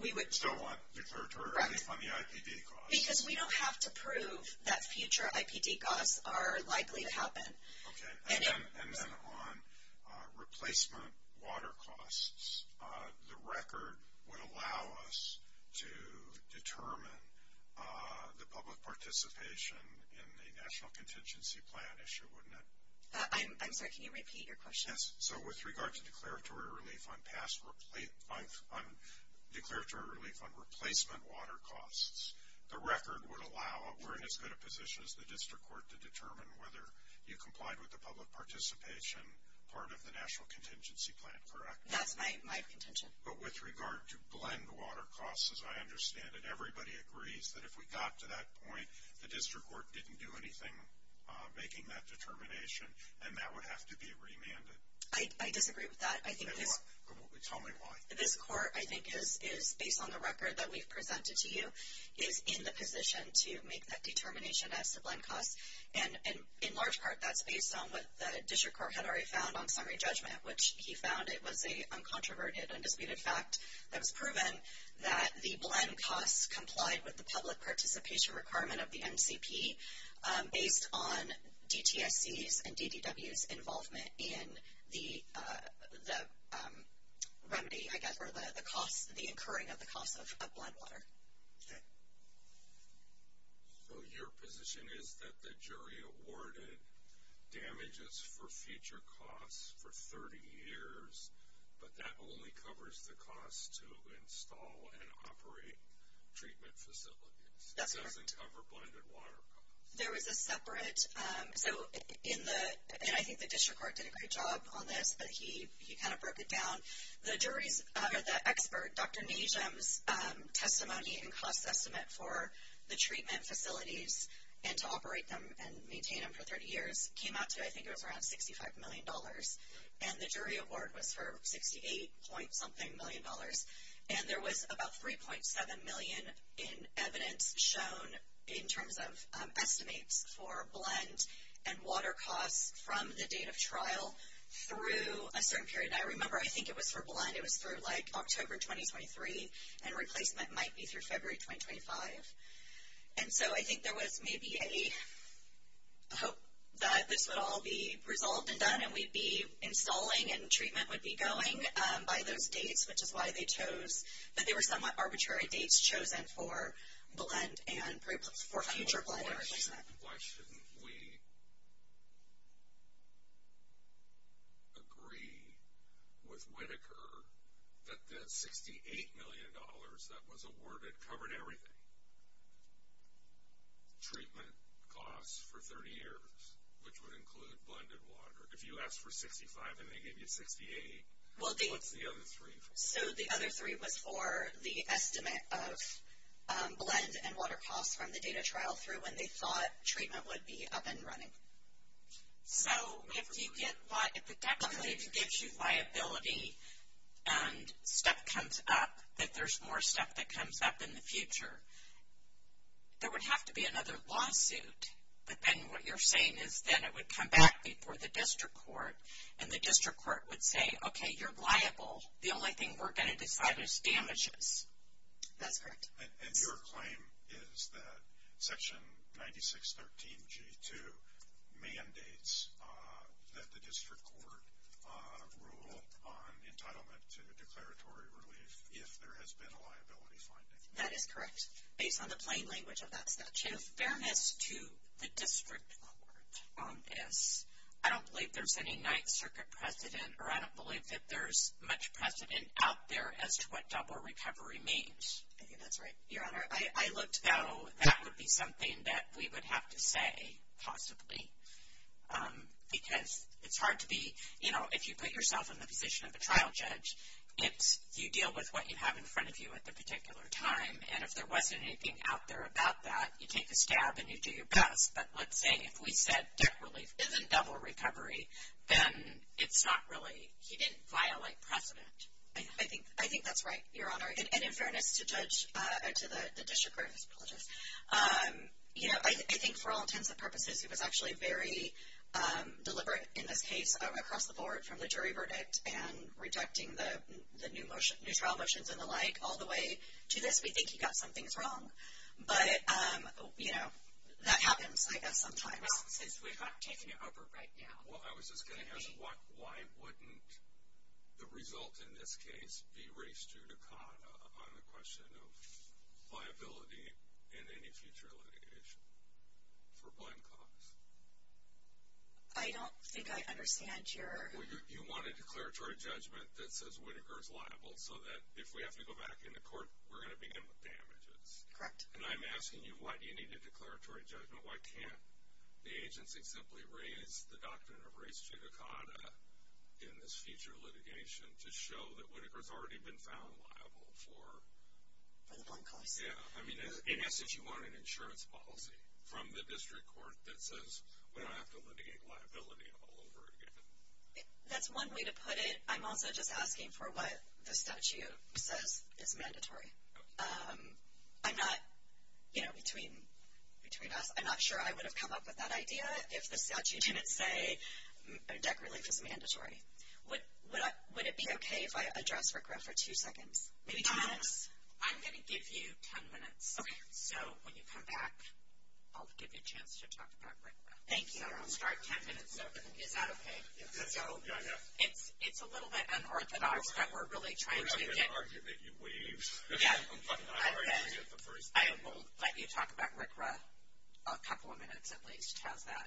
You would still want declaratory relief on the IPD cost. Because we don't have to prove that future IPD costs are likely to happen. Okay. And then on replacement water costs, the record would allow us to determine the public participation in the National Contingency Plan issue, wouldn't it? I'm sorry, can you repeat your question? Yes. So with regard to declaratory relief on replacement water costs, the record would allow us, and it's going to position us, the district court, to determine whether you complied with the public participation part of the National Contingency Plan, correct? That's my contention. But with regard to blend water costs, as I understand it, everybody agrees that if we got to that point, the district court didn't do anything making that determination, and that would have to be remanded. I disagree with that. Tell me why. This court, I think, is, based on the record that we've presented to you, is in the position to make that determination as to blend costs. And in large part, that's based on what the district court had already found on summary judgment, which he found. It was a controverted and disputed fact that was proven that the blend costs complied with the public participation requirement of the NCP based on DTXC's and DDW's involvement in the remedy, I guess, for the cost of the incurring of the cost of blend water. Okay. So your position is that the jury awarded damages for future costs for 30 years, but that only covers the costs to install and operate treatment facilities. It doesn't cover blended water. There is a separate. So in the – and I think the district court did a great job on this, but he kind of broke it down. The jury, the expert, Dr. Nesham's testimony and cost estimate for the treatment facilities and to operate them and maintain them for 30 years came out to, I think, around $65 million. And the jury award went for $68. something million. And there was about $3.7 million in evidence shown in terms of estimates for blend and water costs from the date of trial through a certain period. And I remember, I think it was for blend, it was for, like, October 2023, and replacement might be through February 2025. And so I think there was maybe a hope that this would all be resolved and done and we'd be installing and treatment would be going by those dates, which is why they chose – that there were some arbitrary dates chosen for blend and for future blend and everything like that. And why shouldn't we agree with Whitaker that that $68 million that was awarded covered everything? Treatment costs for 30 years, which would include blend and water. If you asked for 65 and they gave you 68, what's the other three for? So the other three was for the estimate of blend and water costs from the date of trial through when they thought treatment would be up and running. So if it definitely gives you liability and stuff comes up, if there's more stuff that comes up in the future, there would have to be another lawsuit. But then what you're saying is then it would come back before the district court and the district court would say, okay, you're liable. The only thing we're going to decide is damages. Is that correct? And your claim is that Section 9613G2 mandates that the district court rule on entitlement to declaratory relief if there has been a liability finding. That is correct, based on the plain language of that statute. Fairness to the district court. And I don't believe there's any Ninth Circuit precedent, or I don't believe that there's much precedent out there as to what double recovery means. I think that's right. Your Honor, I would know that would be something that we would have to say possibly because it's hard to be, you know, if you put yourself in the position of a trial judge, if you deal with what you have in front of you at the particular time, and if there wasn't anything out there about that, you take a stab and you do your best. But let's say if we said debt relief isn't double recovery, then it's not really violating precedent. I think that's right, Your Honor. And fairness to the district court. You know, I think for all intents and purposes, it was actually very deliberate in the case across the board from the jury verdict and rejecting the new motion, new trial motions and the like, all the way to this. We think you've got something wrong. But, you know, that happens, I guess, sometimes because we've not taken it over right now. Well, I was just going to ask, why wouldn't the result in this case be race judicata on the question of liability in any future linkage for one cause? I don't think I understand your – Well, you want a declaratory judgment that says Whittaker is liable so that if we have to go back into court, we're going to begin with damages. Correct. And I'm asking you, why do you need a declaratory judgment? Why can't the agency simply raise the document of race judicata in this future litigation to show that Whittaker has already been found liable for one cause? Yeah. I mean, in essence, you want an insurance policy from the district court that says we don't have to litigate liability all over again. That's one way to put it. I'm also just asking for what the statute says is mandatory. I'm not – you know, between us, I'm not sure I would have come up with that idea if the statute didn't say that really was mandatory. Would it be okay if I addressed RICRA for two seconds? I'm going to give you ten minutes. Okay. So when you come back, I'll give you a chance to talk about RICRA. Thank you. I'm sorry, ten minutes. Is that okay? Yeah, yeah. It's a little bit unorthodox that we're really trying to get – I'll let you talk about RICRA a couple of minutes at least. How's that?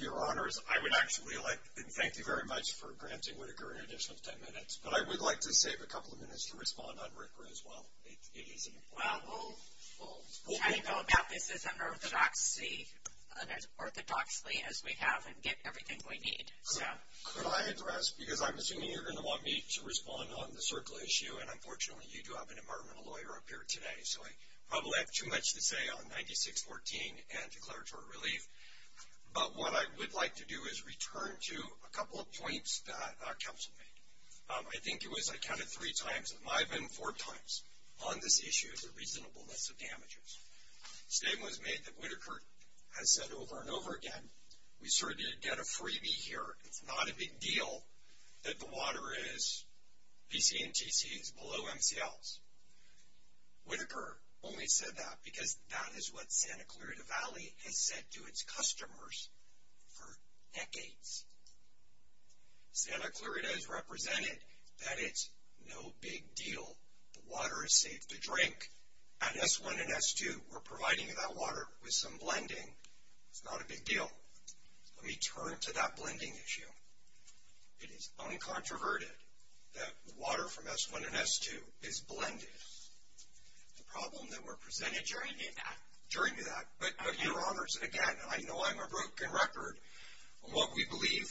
Your Honors, I would actually like to thank you very much for granting Whittaker an additional ten minutes, but I would like to save a couple of minutes to respond on RICRA as well. It's easy. Well, how do you go about this? It's unorthodoxy, unorthodoxly as we have in getting everything we need. Could I address – because I'm assuming you're going to want me to respond on the circular issue, and unfortunately you do have an environmental lawyer up here today, so I probably have too much to say on 9614 and declaratory relief. But what I would like to do is return to a couple of points that Dr. Thompson made. I think it was I counted three times, it might have been four times on this issue as a reasonable list of damages. The statement was made that Whittaker has said over and over again, we certainly did get a freebie here. It's not a big deal that the water is BC and TTCs below MCLs. Whittaker only said that because that is what Santa Clarita Valley has said to its customers for decades. Santa Clarita has represented that it's no big deal. The water is safe to drink. At S1 and S2, we're providing that water with some blending. It's not a big deal. Let me turn to that blending issue. It is uncontroverted that water from S1 and S2 is blended. The problem that were presented during that. But, Your Honors, again, I know I'm a broken record. What we believe,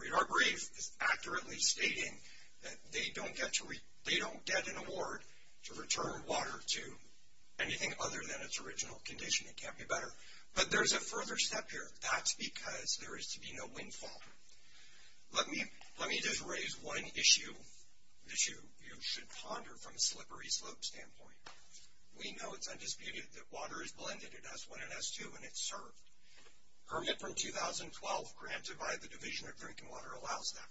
we are brave, is accurately stating that they don't get an award to return water to anything other than its original condition. It can't be better. But there's a further step here. That's because there is to be no windfall. Let me just raise one issue you should ponder from a slippery slope standpoint. We know it's undisputed that water is blended at S1 and S2, and it's served. Permit from 2012 granted by the Division of Drinking Water allows that.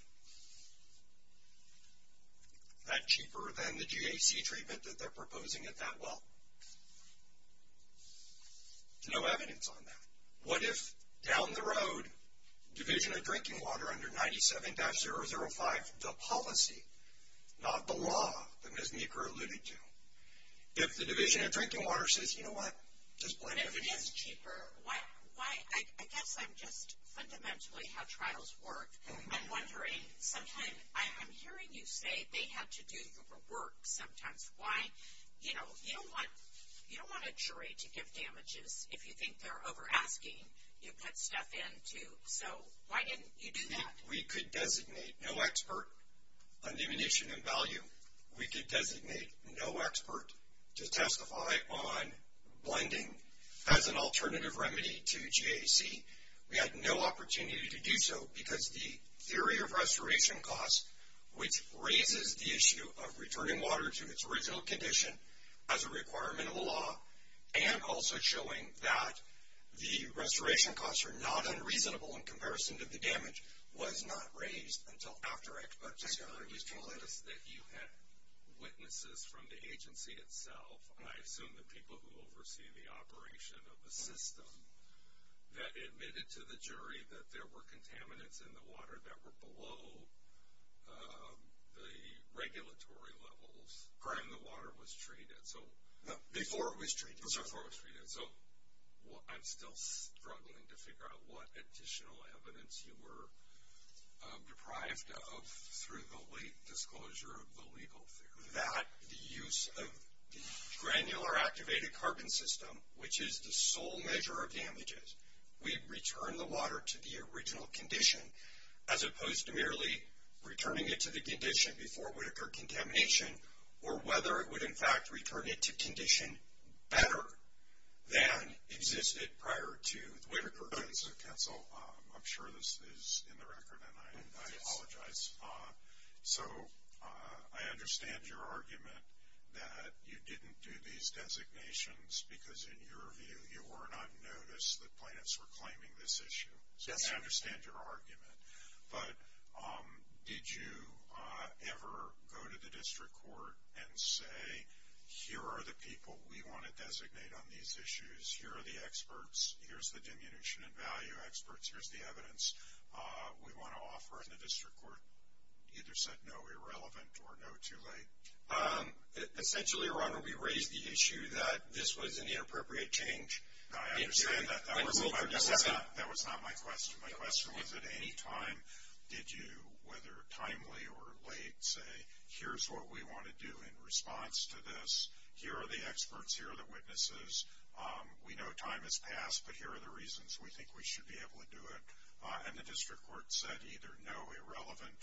Is that cheaper than the GAC treatment that they're proposing at that level? No evidence on that. What if, down the road, Division of Drinking Water under 97-005, the policy, not the law that Ms. Meeker alluded to, if the Division of Drinking Water says, you know what, just blend it. It is cheaper. Why? I guess I'm just fundamentally how trials work. I'm wondering, sometimes I'm hearing you say they have to do the work sometimes. Why? You know, you don't want a jury to give damages if you think they're over-asking. You put stuff in, too. So why didn't you do that? We could designate no expert on diminution of value. We could designate no expert to testify on blending as an alternative remedy to GAC. We had no opportunity to do so because the theory of restoration costs, which raises the issue of returning water to its original condition as a requirement of the law and also showing that the restoration costs are not unreasonable in comparison to the damage, was not raised until after expectation. I'm just curious if you had witnesses from the agency itself, and I assume the people who oversee the operation of the system, that admitted to the jury that there were contaminants in the water that were below the regulatory levels when the water was treated. Before it was treated. Before it was treated. So I'm still struggling to figure out what additional evidence you were deprived of through the late disclosure of the legal theory. The use of granular activated carbon system, which is the sole measure of damages, we return the water to the original condition, as opposed to merely returning it to the condition before it would occur contamination or whether it would, in fact, return it to condition better than existed prior to Whittaker. I'm sure this is in the record, and I apologize. So I understand your argument that you didn't do these designations because, in your view, you weren't on notice that plaintiffs were claiming this issue. I understand your argument. But did you ever go to the district court and say, here are the people we want to designate on these issues, here are the experts, here's the diminution in value experts, here's the evidence we want to offer in the district court? Either said no, irrelevant, or no, too late. Essentially, your Honor, we raised the issue that this was an inappropriate change. I understand that. That was not my question. My question was, at any time, did you, whether timely or late, say, here's what we want to do in response to this, here are the experts, here are the witnesses, we know time has passed, but here are the reasons we think we should be able to do it. And the district court said either no, irrelevant,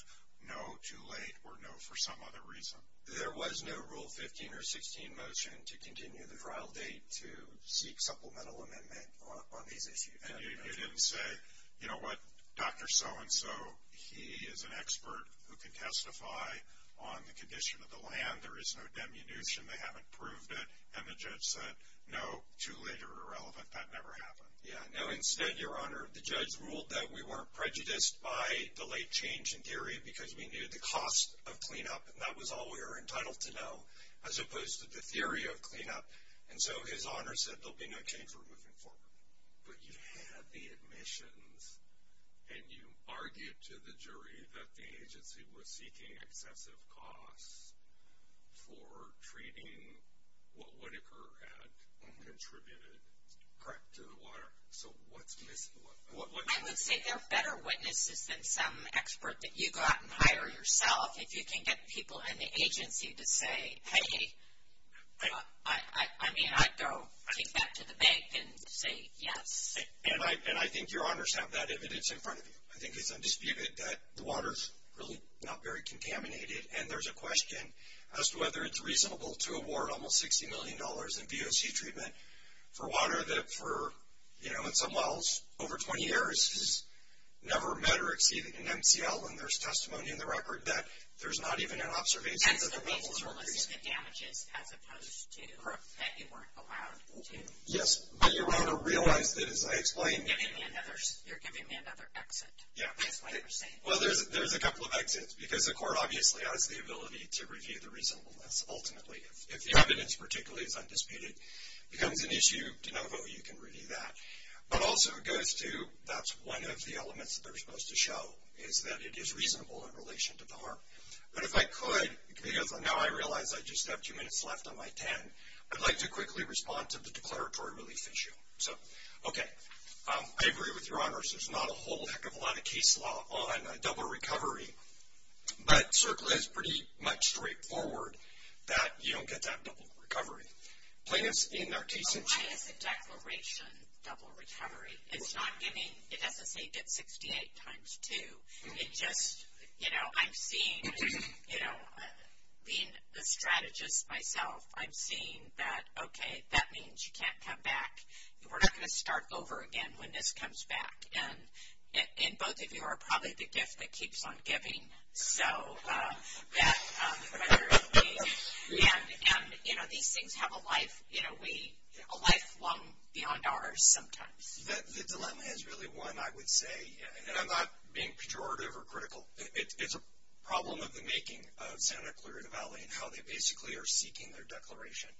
no, too late, or no, for some other reason. There was no Rule 15 or 16 motion to continue the trial date to seek supplemental amendment on these issues. And you didn't say, you know what, Dr. So-and-so, he is an expert who can testify on the condition of the land, there is no diminution, they haven't proved it. And the judge said, no, too late or irrelevant, that never happened. Yeah, no, instead, your Honor, the judge ruled that we weren't prejudiced by the late change in theory because we knew the cost of cleanup, and that was all we were entitled to know, as opposed to the theory of cleanup. And so his Honor said there will be no change, we're moving forward. But you had the admissions, and you argued to the jury that the agency was seeking excessive costs for treating whatever had contributed to the water. So what's missing? I would say there are better witnesses than some expert that you got and hired yourself. If you can get people in the agency to say, hey, I mean, I'd go back to the bank and say, yes. And I think your Honors have that evidence in front of you. I think it's undisputed that the water is really not very contaminated, and there's a question as to whether it's reasonable to award almost $60 million in VOC treatment for water that for, you know, in some wells, over 20 years, has never met or exceeded an MTL when there's testimony in the record that there's not even an observation. And so the label is related to damages as opposed to that you weren't allowed to. Yes. What I want to realize is that I explained to you. You're giving me another exit. Well, there's a couple of exits, because the court obviously has the ability to review the reasonableness. Ultimately, if the evidence, particularly if undisputed, becomes an issue, you can review that. But also it goes to that's one of the elements that they're supposed to show, is that it is reasonable in relation to PAR. But if I could, because now I realize I just have two minutes left on my 10, I'd like to quickly respond to the declaratory relief issue. So, okay. I agree with your honors. There's not a whole heck of a lot of case law on a double recovery, but certainly it's pretty much straightforward that you don't get that double recovery. Plaintiffs in their cases. I have a declaration double recovery. It's not getting it at the state at 68 times 2. It's just, you know, I'm seeing, you know, being the strategist myself, I'm seeing that, okay, that means you can't come back. We're not going to start over again when this comes back. And both of you are probably the gift that keeps on giving. So, yes, declaratory relief. And, you know, these things have a life, you know, a life long beyond ours sometimes. The dilemma is really one, I would say, and I'm not being pejorative or critical. It's a problem of the making of Senator Clear to Valley and how they basically are seeking their declaration.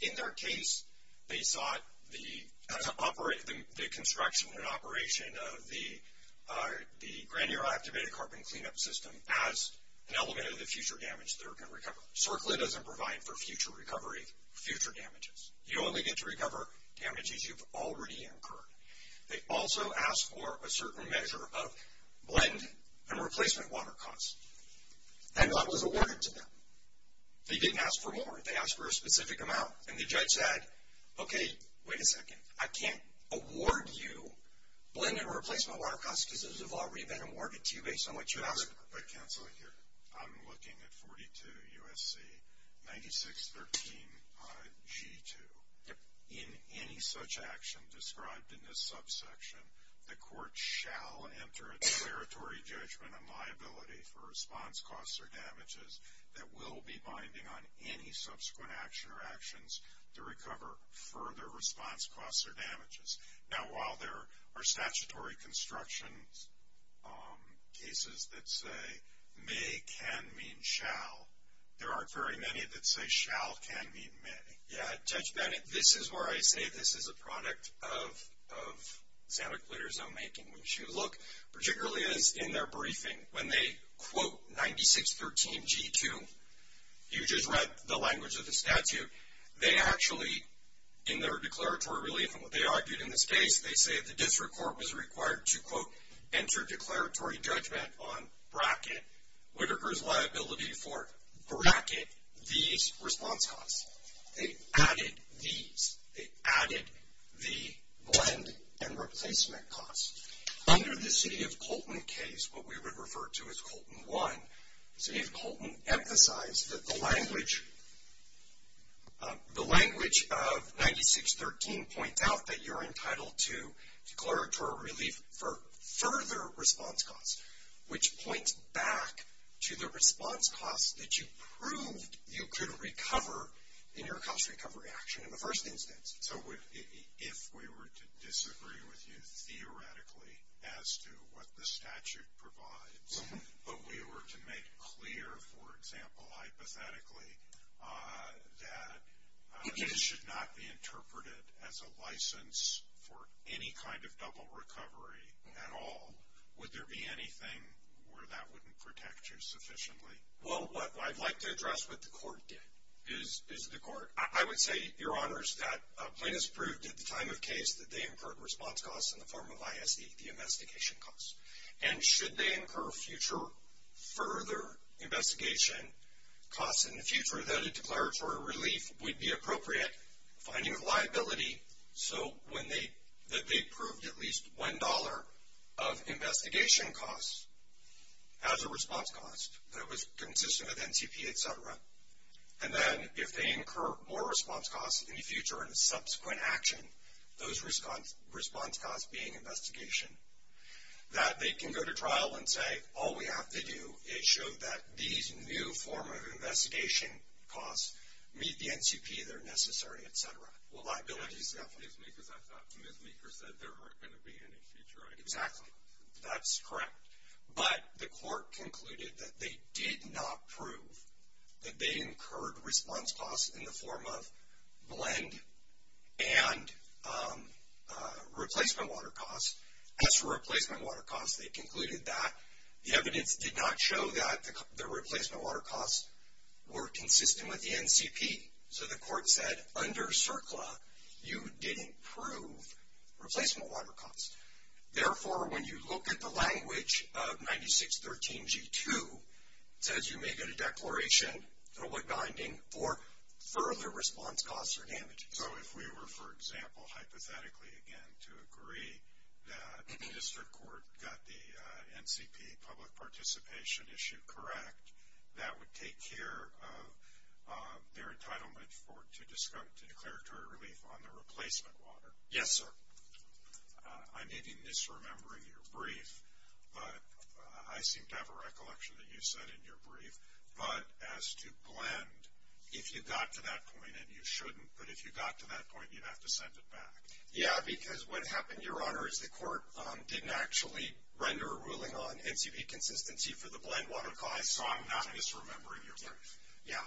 In their case, they thought the construction and operation of the granular activated carbon cleanup system as an element of the future damage they're going to recover. CERCLA doesn't provide for future recovery, future damages. You only get to recover damages you've already incurred. They also ask for a certain measure of blend and replacement water costs. And that was awarded to them. They didn't ask for more. They asked for a specific amount. And the judge said, okay, wait a second, I can't award you blend and replacement water costs because those have already been awarded to you based on what you have. I'm looking at 42 U.S.C. 9613 G2. In any such action described in this subsection, the court shall enter a declaratory judgment on liability for response costs or damages that will be binding on any subsequent action or actions to recover further response costs or damages. Now, while there are statutory construction cases that say may, can, mean, shall, there aren't very many that say shall, can, mean, may. Yeah, this is where I say this is a product of standard clear zone making, which you look particularly in their briefing when they quote 9613 G2. You just read the language of the statute. They actually, in their declaratory, really in what they argued in this case, they say the district court was required to, quote, enter declaratory judgment on bracket, whatever is liability for bracket, these response costs. They added these. They added the blend and replacement costs. Under the city of Colton case, what we would refer to as Colton 1, city of Colton emphasized that the language of 9613 points out that you're entitled to declaratory relief for further response costs, which points back to the response costs that you proved you could recover in your cost recovery action in the first instance. So if we were to disagree with you theoretically as to what the statute provides, but we were to make clear, for example, hypothetically, that this should not be interpreted as a license for any kind of double recovery at all, would there be anything where that wouldn't protect you sufficiently? Well, I'd like to address what the court did. I would say, Your Honors, that plaintiffs proved at the time of case that they incurred response costs in the form of ISEP investigation costs. And should they incur future further investigation costs in the future, that a declaratory relief would be appropriate, finding a liability, so that they proved at least $1 of investigation costs as a response cost that was consistent of NTP, et cetera. And then if they incur more response costs in the future and subsequent action, those response costs being investigation, that they can go to trial and say, all we have to do is show that these new form of investigation costs meet the NTP, they're necessary, et cetera. Well, liability is not going to be, because I thought Ms. Meeker said there weren't going to be any future. Exactly. That's correct. But the court concluded that they did not prove that they incurred response costs in the form of BLEND and replacement water costs. As for replacement water costs, they concluded that the evidence did not show that the replacement water costs were consistent with the NTP. So the court said, under CERCLA, you didn't prove replacement water costs. Therefore, when you look at the language of 9613G2, it says you may get a declaration, public binding, for further response costs or damages. So if we were, for example, hypothetically, again, to agree that the district court got the NTP public participation issue correct, that would take care of their entitlement to discount the declaratory relief on the replacement water. Yes, sir. I'm maybe misremembering your brief, but I seem to have a recollection that you said in your brief, but as to BLEND, if you got to that point and you shouldn't, but if you got to that point, you'd have to send it back. Yeah, because what happened, Your Honor, is the court didn't actually render a ruling on NTP consistency for the BLEND water cost, so I'm not misremembering your brief. Yeah,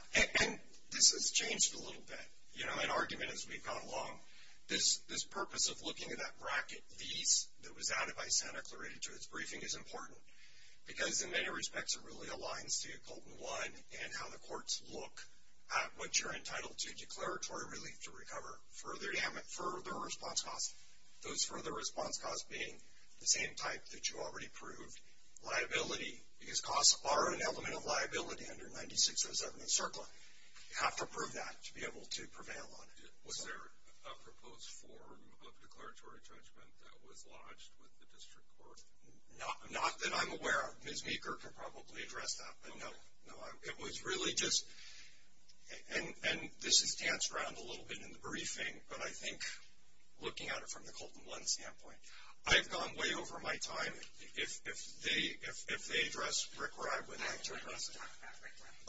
and this has changed a little bit. You know, my argument, as we've gone along, this purpose of looking at that bracket, BEATS, that was not, if I stand, accelerated to its briefing, is important. Because in many respects, it really aligns to your quote and why and how the courts look at what you're entitled to declaratory relief to recover further response costs, those further response costs being the same type that you already proved. Liability, because costs are an element of liability under 9607 and CERCLA. You have to prove that to be able to prevail on it. Was there a proposed form of declaratory judgment that was lodged with the district court? Not that I'm aware of. Ms. Meeker can probably address that, but no. No, it was really just, and this enhanced around a little bit in the briefing, but I think looking at it from the Colton BLEND standpoint, I've gone way over my time. If they addressed it where I would have addressed it.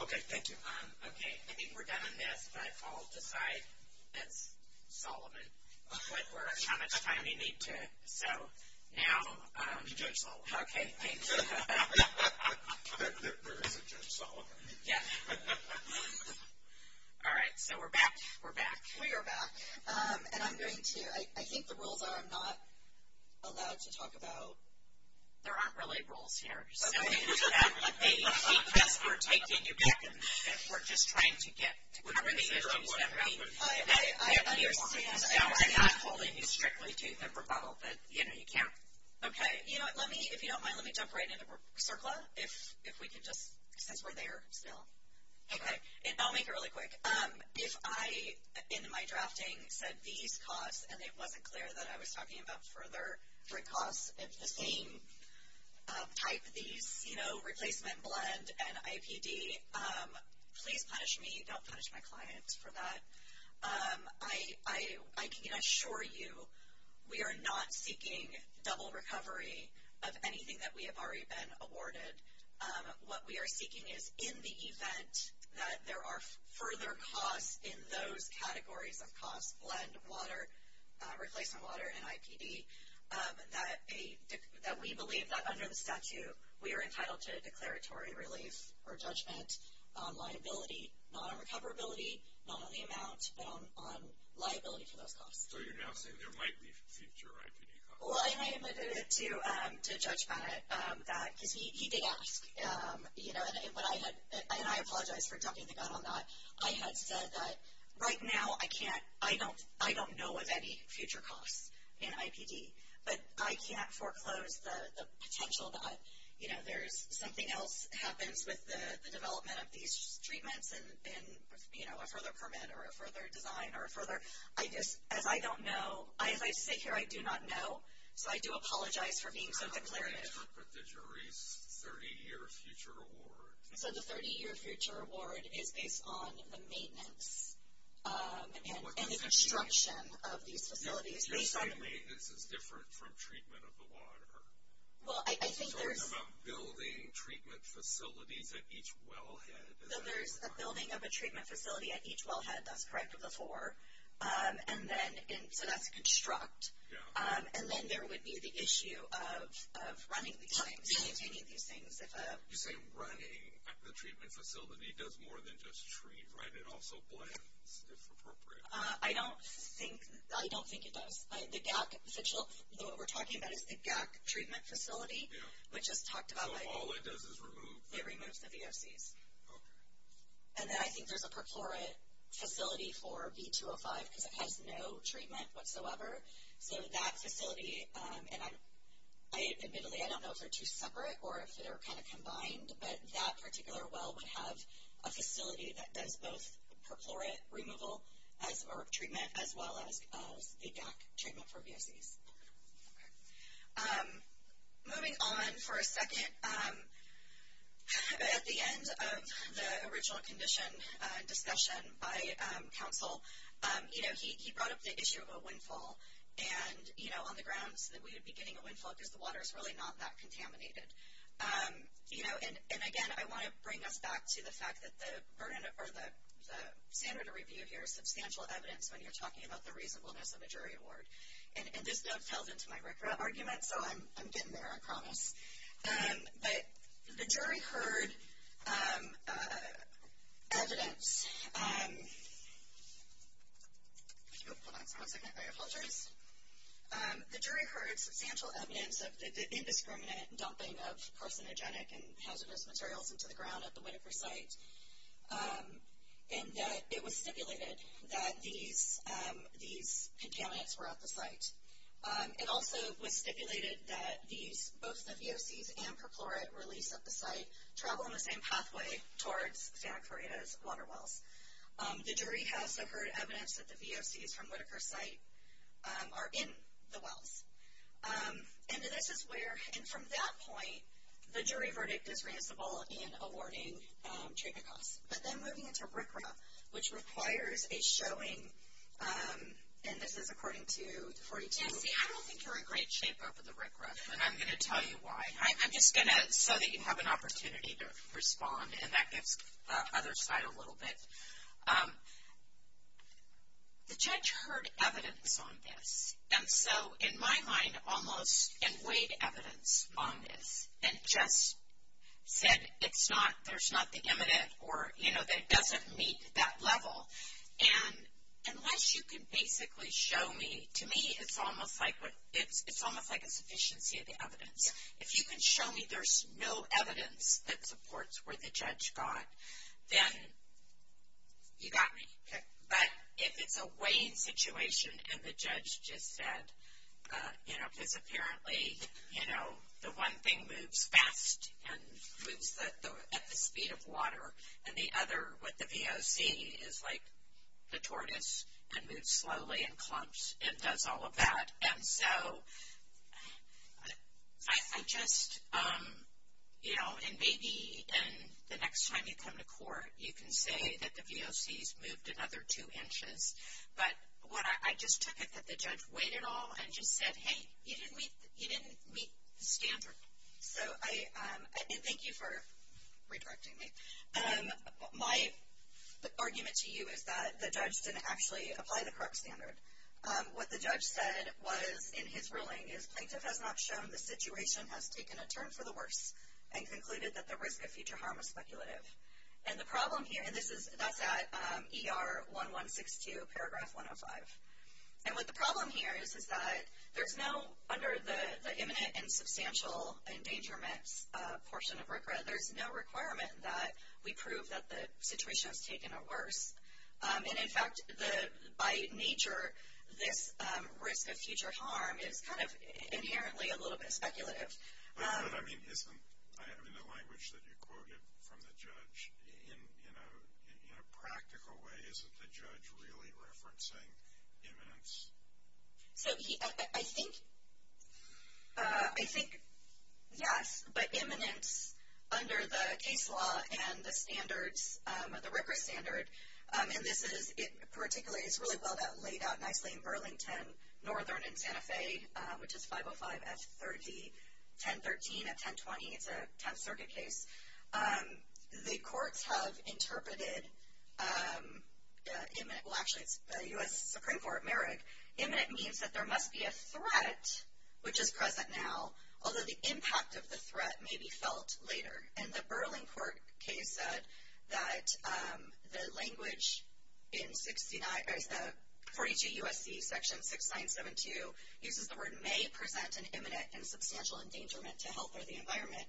Okay, thank you. Okay, I think we're done on this. I'll decide that Solomon looks like we're out of time. We need to go now. Judge Solomon. Okay, thank you. Judge Solomon. Yes. All right, so we're back. We're back. We are back. And I'm going to, I think the rules are not allowed to talk about, there aren't really rules here. Okay. We're just trying to get rid of whatever. I'm not holding you strictly to the proposal. You know, you can't. Okay. You know what, let me, if you don't mind, let me jump right into the surplus, if we can just, since we're there still. Okay. I'll make it really quick. If I, in my drafting, said these costs, and it wasn't clear that I was talking about further cost, it's the same type of these, you know, replacement, blend, and IPD. Please punish me, don't punish my clients for that. I can assure you we are not seeking double recovery of anything that we have already been awarded. What we are seeking is in the event that there are further costs in those categories of costs, blend, water, replacement water, and IPD, that we believe that under the statute we are entitled to declaratory relief or judgment on liability, not on recoverability, not on the amount, but on liability to those costs. So you're now saying there might be future IPD costs. Well, I think it's too, to judge from it, that you can ask, you know, and I apologize for jumping the gun on that. I have said that right now I can't, I don't know of any future costs in IPD, but I can't foreclose the potential that, you know, there's something else happens with the development of these treatments and, you know, a further permit or a further design or a further, I just, as I don't know, as I sit here I do not know, so I do apologize for being so delirious. The jury's 30-year future award. It's on the maintenance and the construction of these facilities. This is different from treatment of the water. Well, I think there's. You're talking about building treatment facilities at each wellhead. So there's a building of a treatment facility at each wellhead, that's correct with the four, and then instead of construct. Yeah. And then there would be the issue of running these things. You say running the treatment facility does more than just treat, right? It also blends, if appropriate. I don't think it does. What we're talking about is a GAC treatment facility, which is talked about. All it does is remove. It removes the BSDs. Okay. And then I think there's a perforate facility for B205, because it has no treatment whatsoever. So that facility, and I admittedly, I don't know if they're two separate or if they're kind of combined, but that particular well would have a facility that does both perforate removal or treatment, as well as the GAC treatment for BSDs. Okay. Moving on for a second. At the end of the original condition discussion by counsel, you know, he brought up the issue of a windfall. And, you know, I think it's important to note that, you know, if we were to have a windfall on the ground, then we would be getting a windfall because the water is really not that contaminated. You know, and, again, I want to bring us back to the fact that the standard of review here is substantial evidence when you're talking about the reasonableness of a jury award. And this does sell into my record of argument, so I'm getting there, I promise. But the jury heard evidence. The jury heard substantial evidence of the indiscriminate dumping of carcinogenic and hazardous materials into the ground at the Winifred site, and that it was stipulated that these contaminants were at the site. It also was stipulated that both the POCs and perforate release at the site are in the wells. The jury has heard evidence that the POCs from Whitaker site are in the wells. And this is where, and from that point, the jury verdict is reasonable in awarding shake-up costs. But then moving to RCRA, which requires a showing, and this is according to 4010, we are looking for a great shake-up of the RCRA, and I'm going to tell you why. I'm just going to so that you have an opportunity to respond, and that gets others fired a little bit. The judge heard evidence on this, and so, in my mind, almost in weight evidence on this. And just said there's nothing imminent or, you know, that doesn't meet that level. And unless you can basically show me, to me, it's almost like a sufficiency of the evidence. If you can show me there's no evidence that supports where the judge got, then you got me. But if it's a weighing situation and the judge just said, you know, because apparently, you know, the one thing moves fast and moves at the speed of water, and the other, with the POC, is like the tortoise, and moves slowly and clumps and does all of that. And so I'm just, you know, and maybe the next time you come to court, you can say that the POC has moved another two inches. But I just took it that the judge weighed it all and just said, hey, you didn't meet the standard. So thank you for redirecting me. My argument to you is that the judge didn't actually apply the correct standard. What the judge said was, in his ruling, his plaintiff has not shown the situation has taken a turn for the worse and concluded that the risk of future harm is speculative. And the problem here, and this is at ER 1162, paragraph 105. And what the problem here is that there's no, under the imminent and substantial endangerment portion, there's no requirement that we prove that the situation has taken a worse. And, in fact, by nature, this risk of future harm is kind of inherently a little bit speculative. I mean, the language that you quoted from the judge, in a practical way, isn't the judge really referencing imminence? I think, yes. So, the court has interpreted the imminent and substantial endangerment as a risk-based standard. And this is, in particular, it's really well laid out nicely in Burlington, Northern and Santa Fe, which is 505 S30, 1013 and 1020. It's a 10th Circuit case. The court has interpreted the imminent, well, actually, the U.S. Supreme Court merits, imminent means that there must be a threat, which is present now, although the impact of the threat may be felt later. And the Burlington case says that the language in 60, the 40GUSD section 6972 uses the word may present an imminent and substantial endangerment to health or the environment.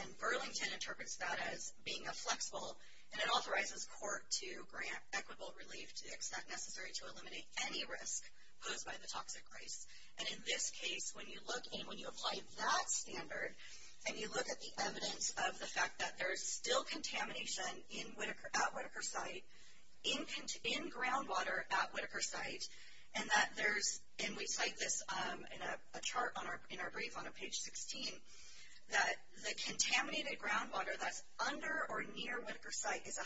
And Burlington interprets that as being a flexible. And it authorizes court to grant equitable relief to the extent necessary to eliminate any risk posed by the toxic rate. And in this case, when you look in, when you apply that standard, and you look at the evidence of the fact that there's still contamination at Whitaker site, in groundwater at Whitaker site, and that there's, and we cite this in a chart in our brief on page 16, that the contaminated groundwater that's under or near Whitaker site is a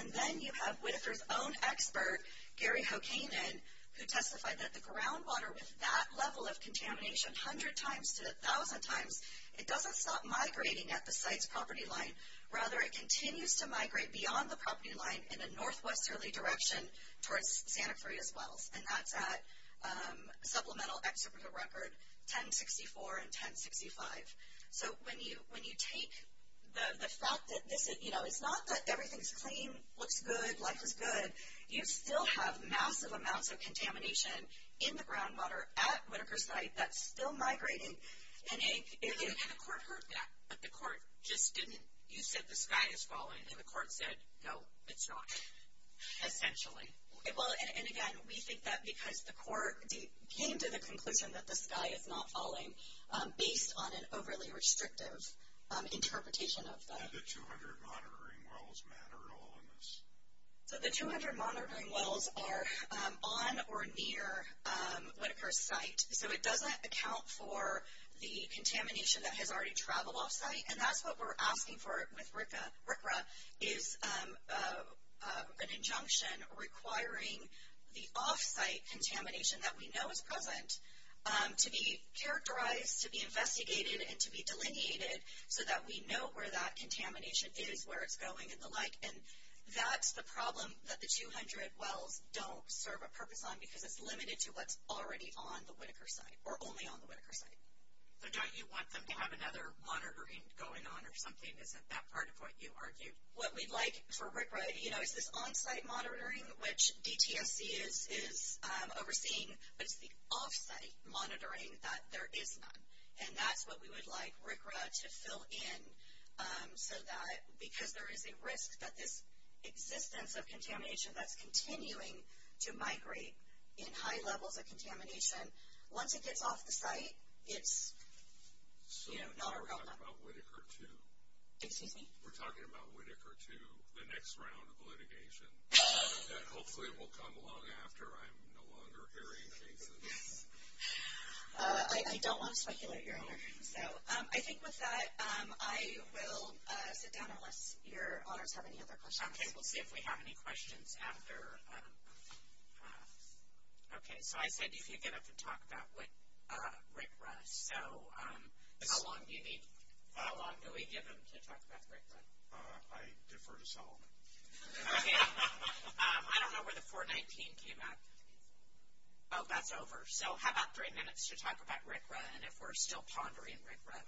And then you have Whitaker's own expert, Gary Hokeaman, who testified that the groundwater was that level of contamination, 100 times to 1,000 times. It doesn't stop migrating at the site's property line. Rather, it continues to migrate beyond the property line in the northwest early direction towards Santa Cruz as well. And that's that supplemental extrovert record 1064 and 1065. So when you take the fact that, you know, it's not that everything's clean, looks good, life is good, you still have massive amounts of contamination in the groundwater at Whitaker site that's still migrating. And the court heard that, but the court just didn't. You said the sky is falling, and the court said, no, it's not. Essentially. And again, we think that because the court came to the conclusion that the And the 200 monitoring wells matter all in this. So the 200 monitoring wells are on or near Whitaker's site. So it doesn't account for the contamination that has already traveled off site, and that's what we're asking for with RCRA, is an injunction requiring the off-site contamination that we know is characterized to be investigated and to be delineated so that we know where that contamination is, where it's going and the like. And that's the problem that the 200 wells don't serve a purpose on because it's limited to what's already on the Whitaker site or only on the Whitaker site. So don't you want them to have another monitoring going on or something that's not that part of what you argue? What we'd like for RCRA, you know, is this on-site monitoring, which DTMC is overseeing, but it's the off-site monitoring that there is none. And that's what we would like RCRA to fill in so that, because there is a risk that this existence of contamination that's continuing to migrate in high levels of contamination, once it gets off the site, it's, you know, not a problem. We're talking about Whitaker 2. We're talking about Whitaker 2, the next round of litigation. And hopefully it will come along after I'm no longer hearing David. I don't want to speculate here. So I think with that, I will sit down unless your audience has any other questions. Okay. We'll see if we have any questions after. Okay. So I said you can get up and talk about with Rick Russ. So how long do we give him to talk about Rick Russ? I defer to Solomon. I don't know where the 419 came at. Oh, that's over. So how about three minutes to talk about Rick Russ and if we're still pondering Rick Russ.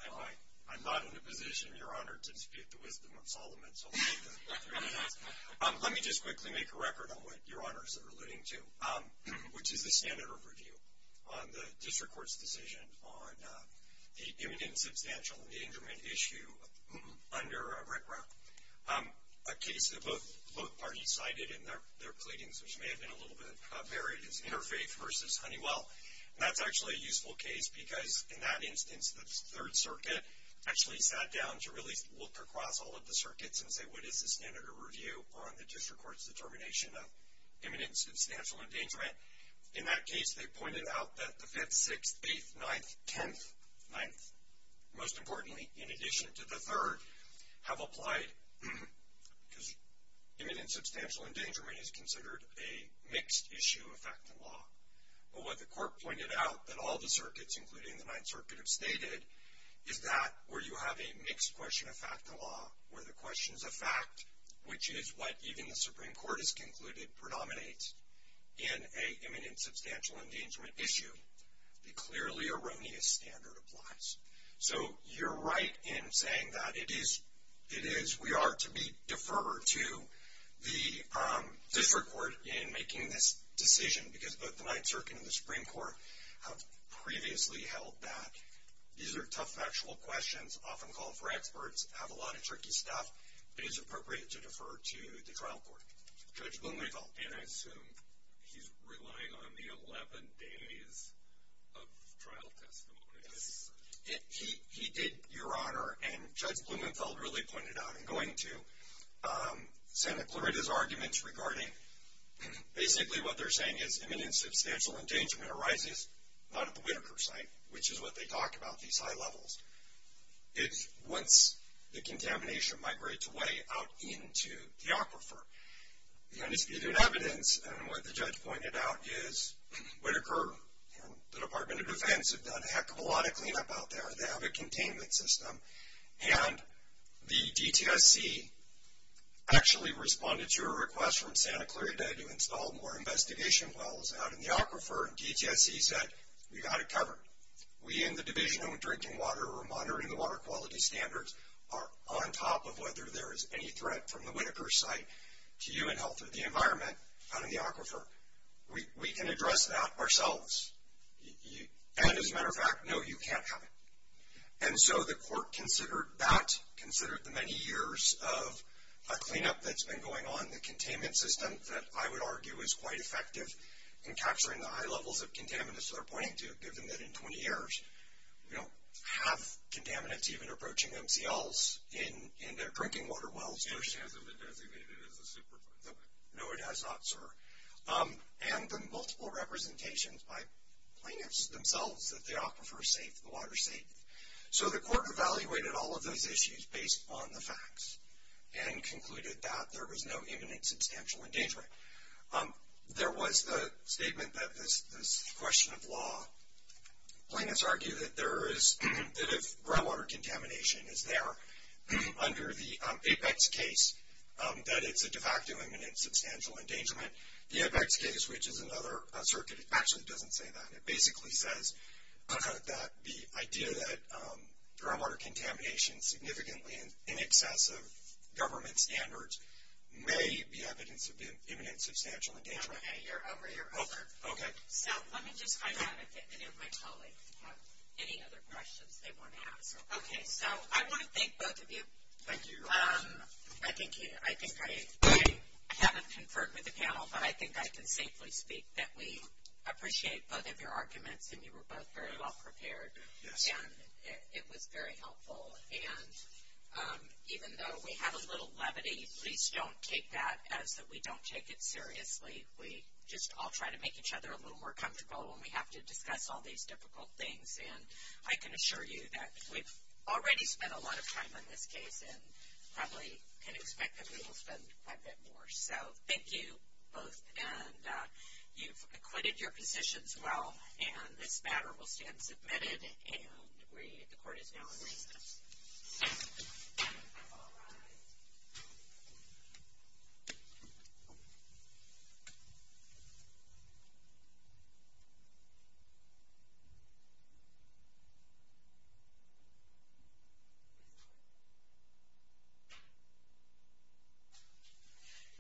I'm not in a position, Your Honor, to dispute the wisdom of Solomon. Let me just quickly make a record on what Your Honors are alluding to, which is the standard of review on the district court's decision on the imminent substantial endangerment issue under Rick Russ. A case that both parties cited in their pleadings, which may have been a little bit varied, is Interfaith versus Honeywell. And that's actually a useful case because, in that instance, the Third Circuit actually sat down to really look across all of the circuits and say what is the standard of review on the district court's determination of imminent substantial endangerment. In that case, they pointed out that the 5th, 6th, 8th, 9th, 10th, 9th, most importantly, in addition to the 3rd, have applied because imminent substantial endangerment is considered a mixed issue of fact and law. But what the court pointed out in all the circuits, including the Ninth Circuit, have stated is that where you have a mixed question of fact and law, where the question is a fact, which is what even the Supreme Court has concluded predominates in a imminent substantial endangerment issue, the clearly erroneous standard applies. So you're right in saying that. We are to defer to the district court in making this decision because both the Ninth Circuit and the Supreme Court have previously held that. These are tough factual questions, often called for experts, have a lot of tricky stuff. It is appropriate to defer to the trial court. Judge Blumenthal. And I assume he's relying on the 11 days of trial testimony. He did, Your Honor. And Judge Blumenthal really pointed out in going to Senate Florida's arguments regarding basically what they're saying is imminent substantial endangerment arises out of the Whitaker site, which is what they talked about, these high levels. It's what the contamination migrates away out into the aquifer. The undisputed evidence, and what the judge pointed out, is Whitaker and the Department of Defense have done a heck of a lot of cleanup out there. They have a containment system. And the DTSC actually responded to a request from Senate Florida to install more investigation tunnels out in the aquifer. DTSC said, we've got it covered. We in the Division of Drinking Water or Monitoring the Water Quality Standards are on top of whether there is any threat from the Whitaker site to you and health of the environment out in the aquifer. We can address that ourselves. And as a matter of fact, no, you can't have it. And so the court considered that, considered the many years of a cleanup that's been going on in the containment system that I would argue is quite effective in capturing the high levels of contaminants that I'm pointing to, given that in 20 years we don't have contaminants even approaching MTLs in their drinking water wells. They just have them designated as a superfund. No, it has not, sir. And the multiple representations by cleaners themselves, the aquifer state, the water state. So the court evaluated all of those issues based on the facts and concluded that there was no imminent substantial endangerment. There was a statement that this question of law, plaintiffs argue that there is groundwater contamination is there under the APEX case, that it's a de facto imminent substantial endangerment. The APEX case, which is another circuit, actually doesn't say that. It basically says that the idea that groundwater contamination significantly in excess of government standards may be evidence of imminent substantial endangerment. Hey, you're over. You're over. Okay. Now, let me just find out if any of my colleagues have any other questions they want to ask. Okay, so I want to thank both of you. Thank you. I think I haven't conferred with the panel, but I think I can safely speak that we appreciate both of your arguments, and you were both very well prepared. Yes. And it was very helpful. And even though we have a little levity, please don't take that as that we don't take it seriously. We just all try to make each other a little more comfortable when we have to discuss all these difficult things. And I can assure you that we've already spent a lot of time on this case and probably can expect that we will spend quite a bit more. So thank you both. And you've acquitted your positions well, and this matter will stand submitted. And we, of course, now wait. All right.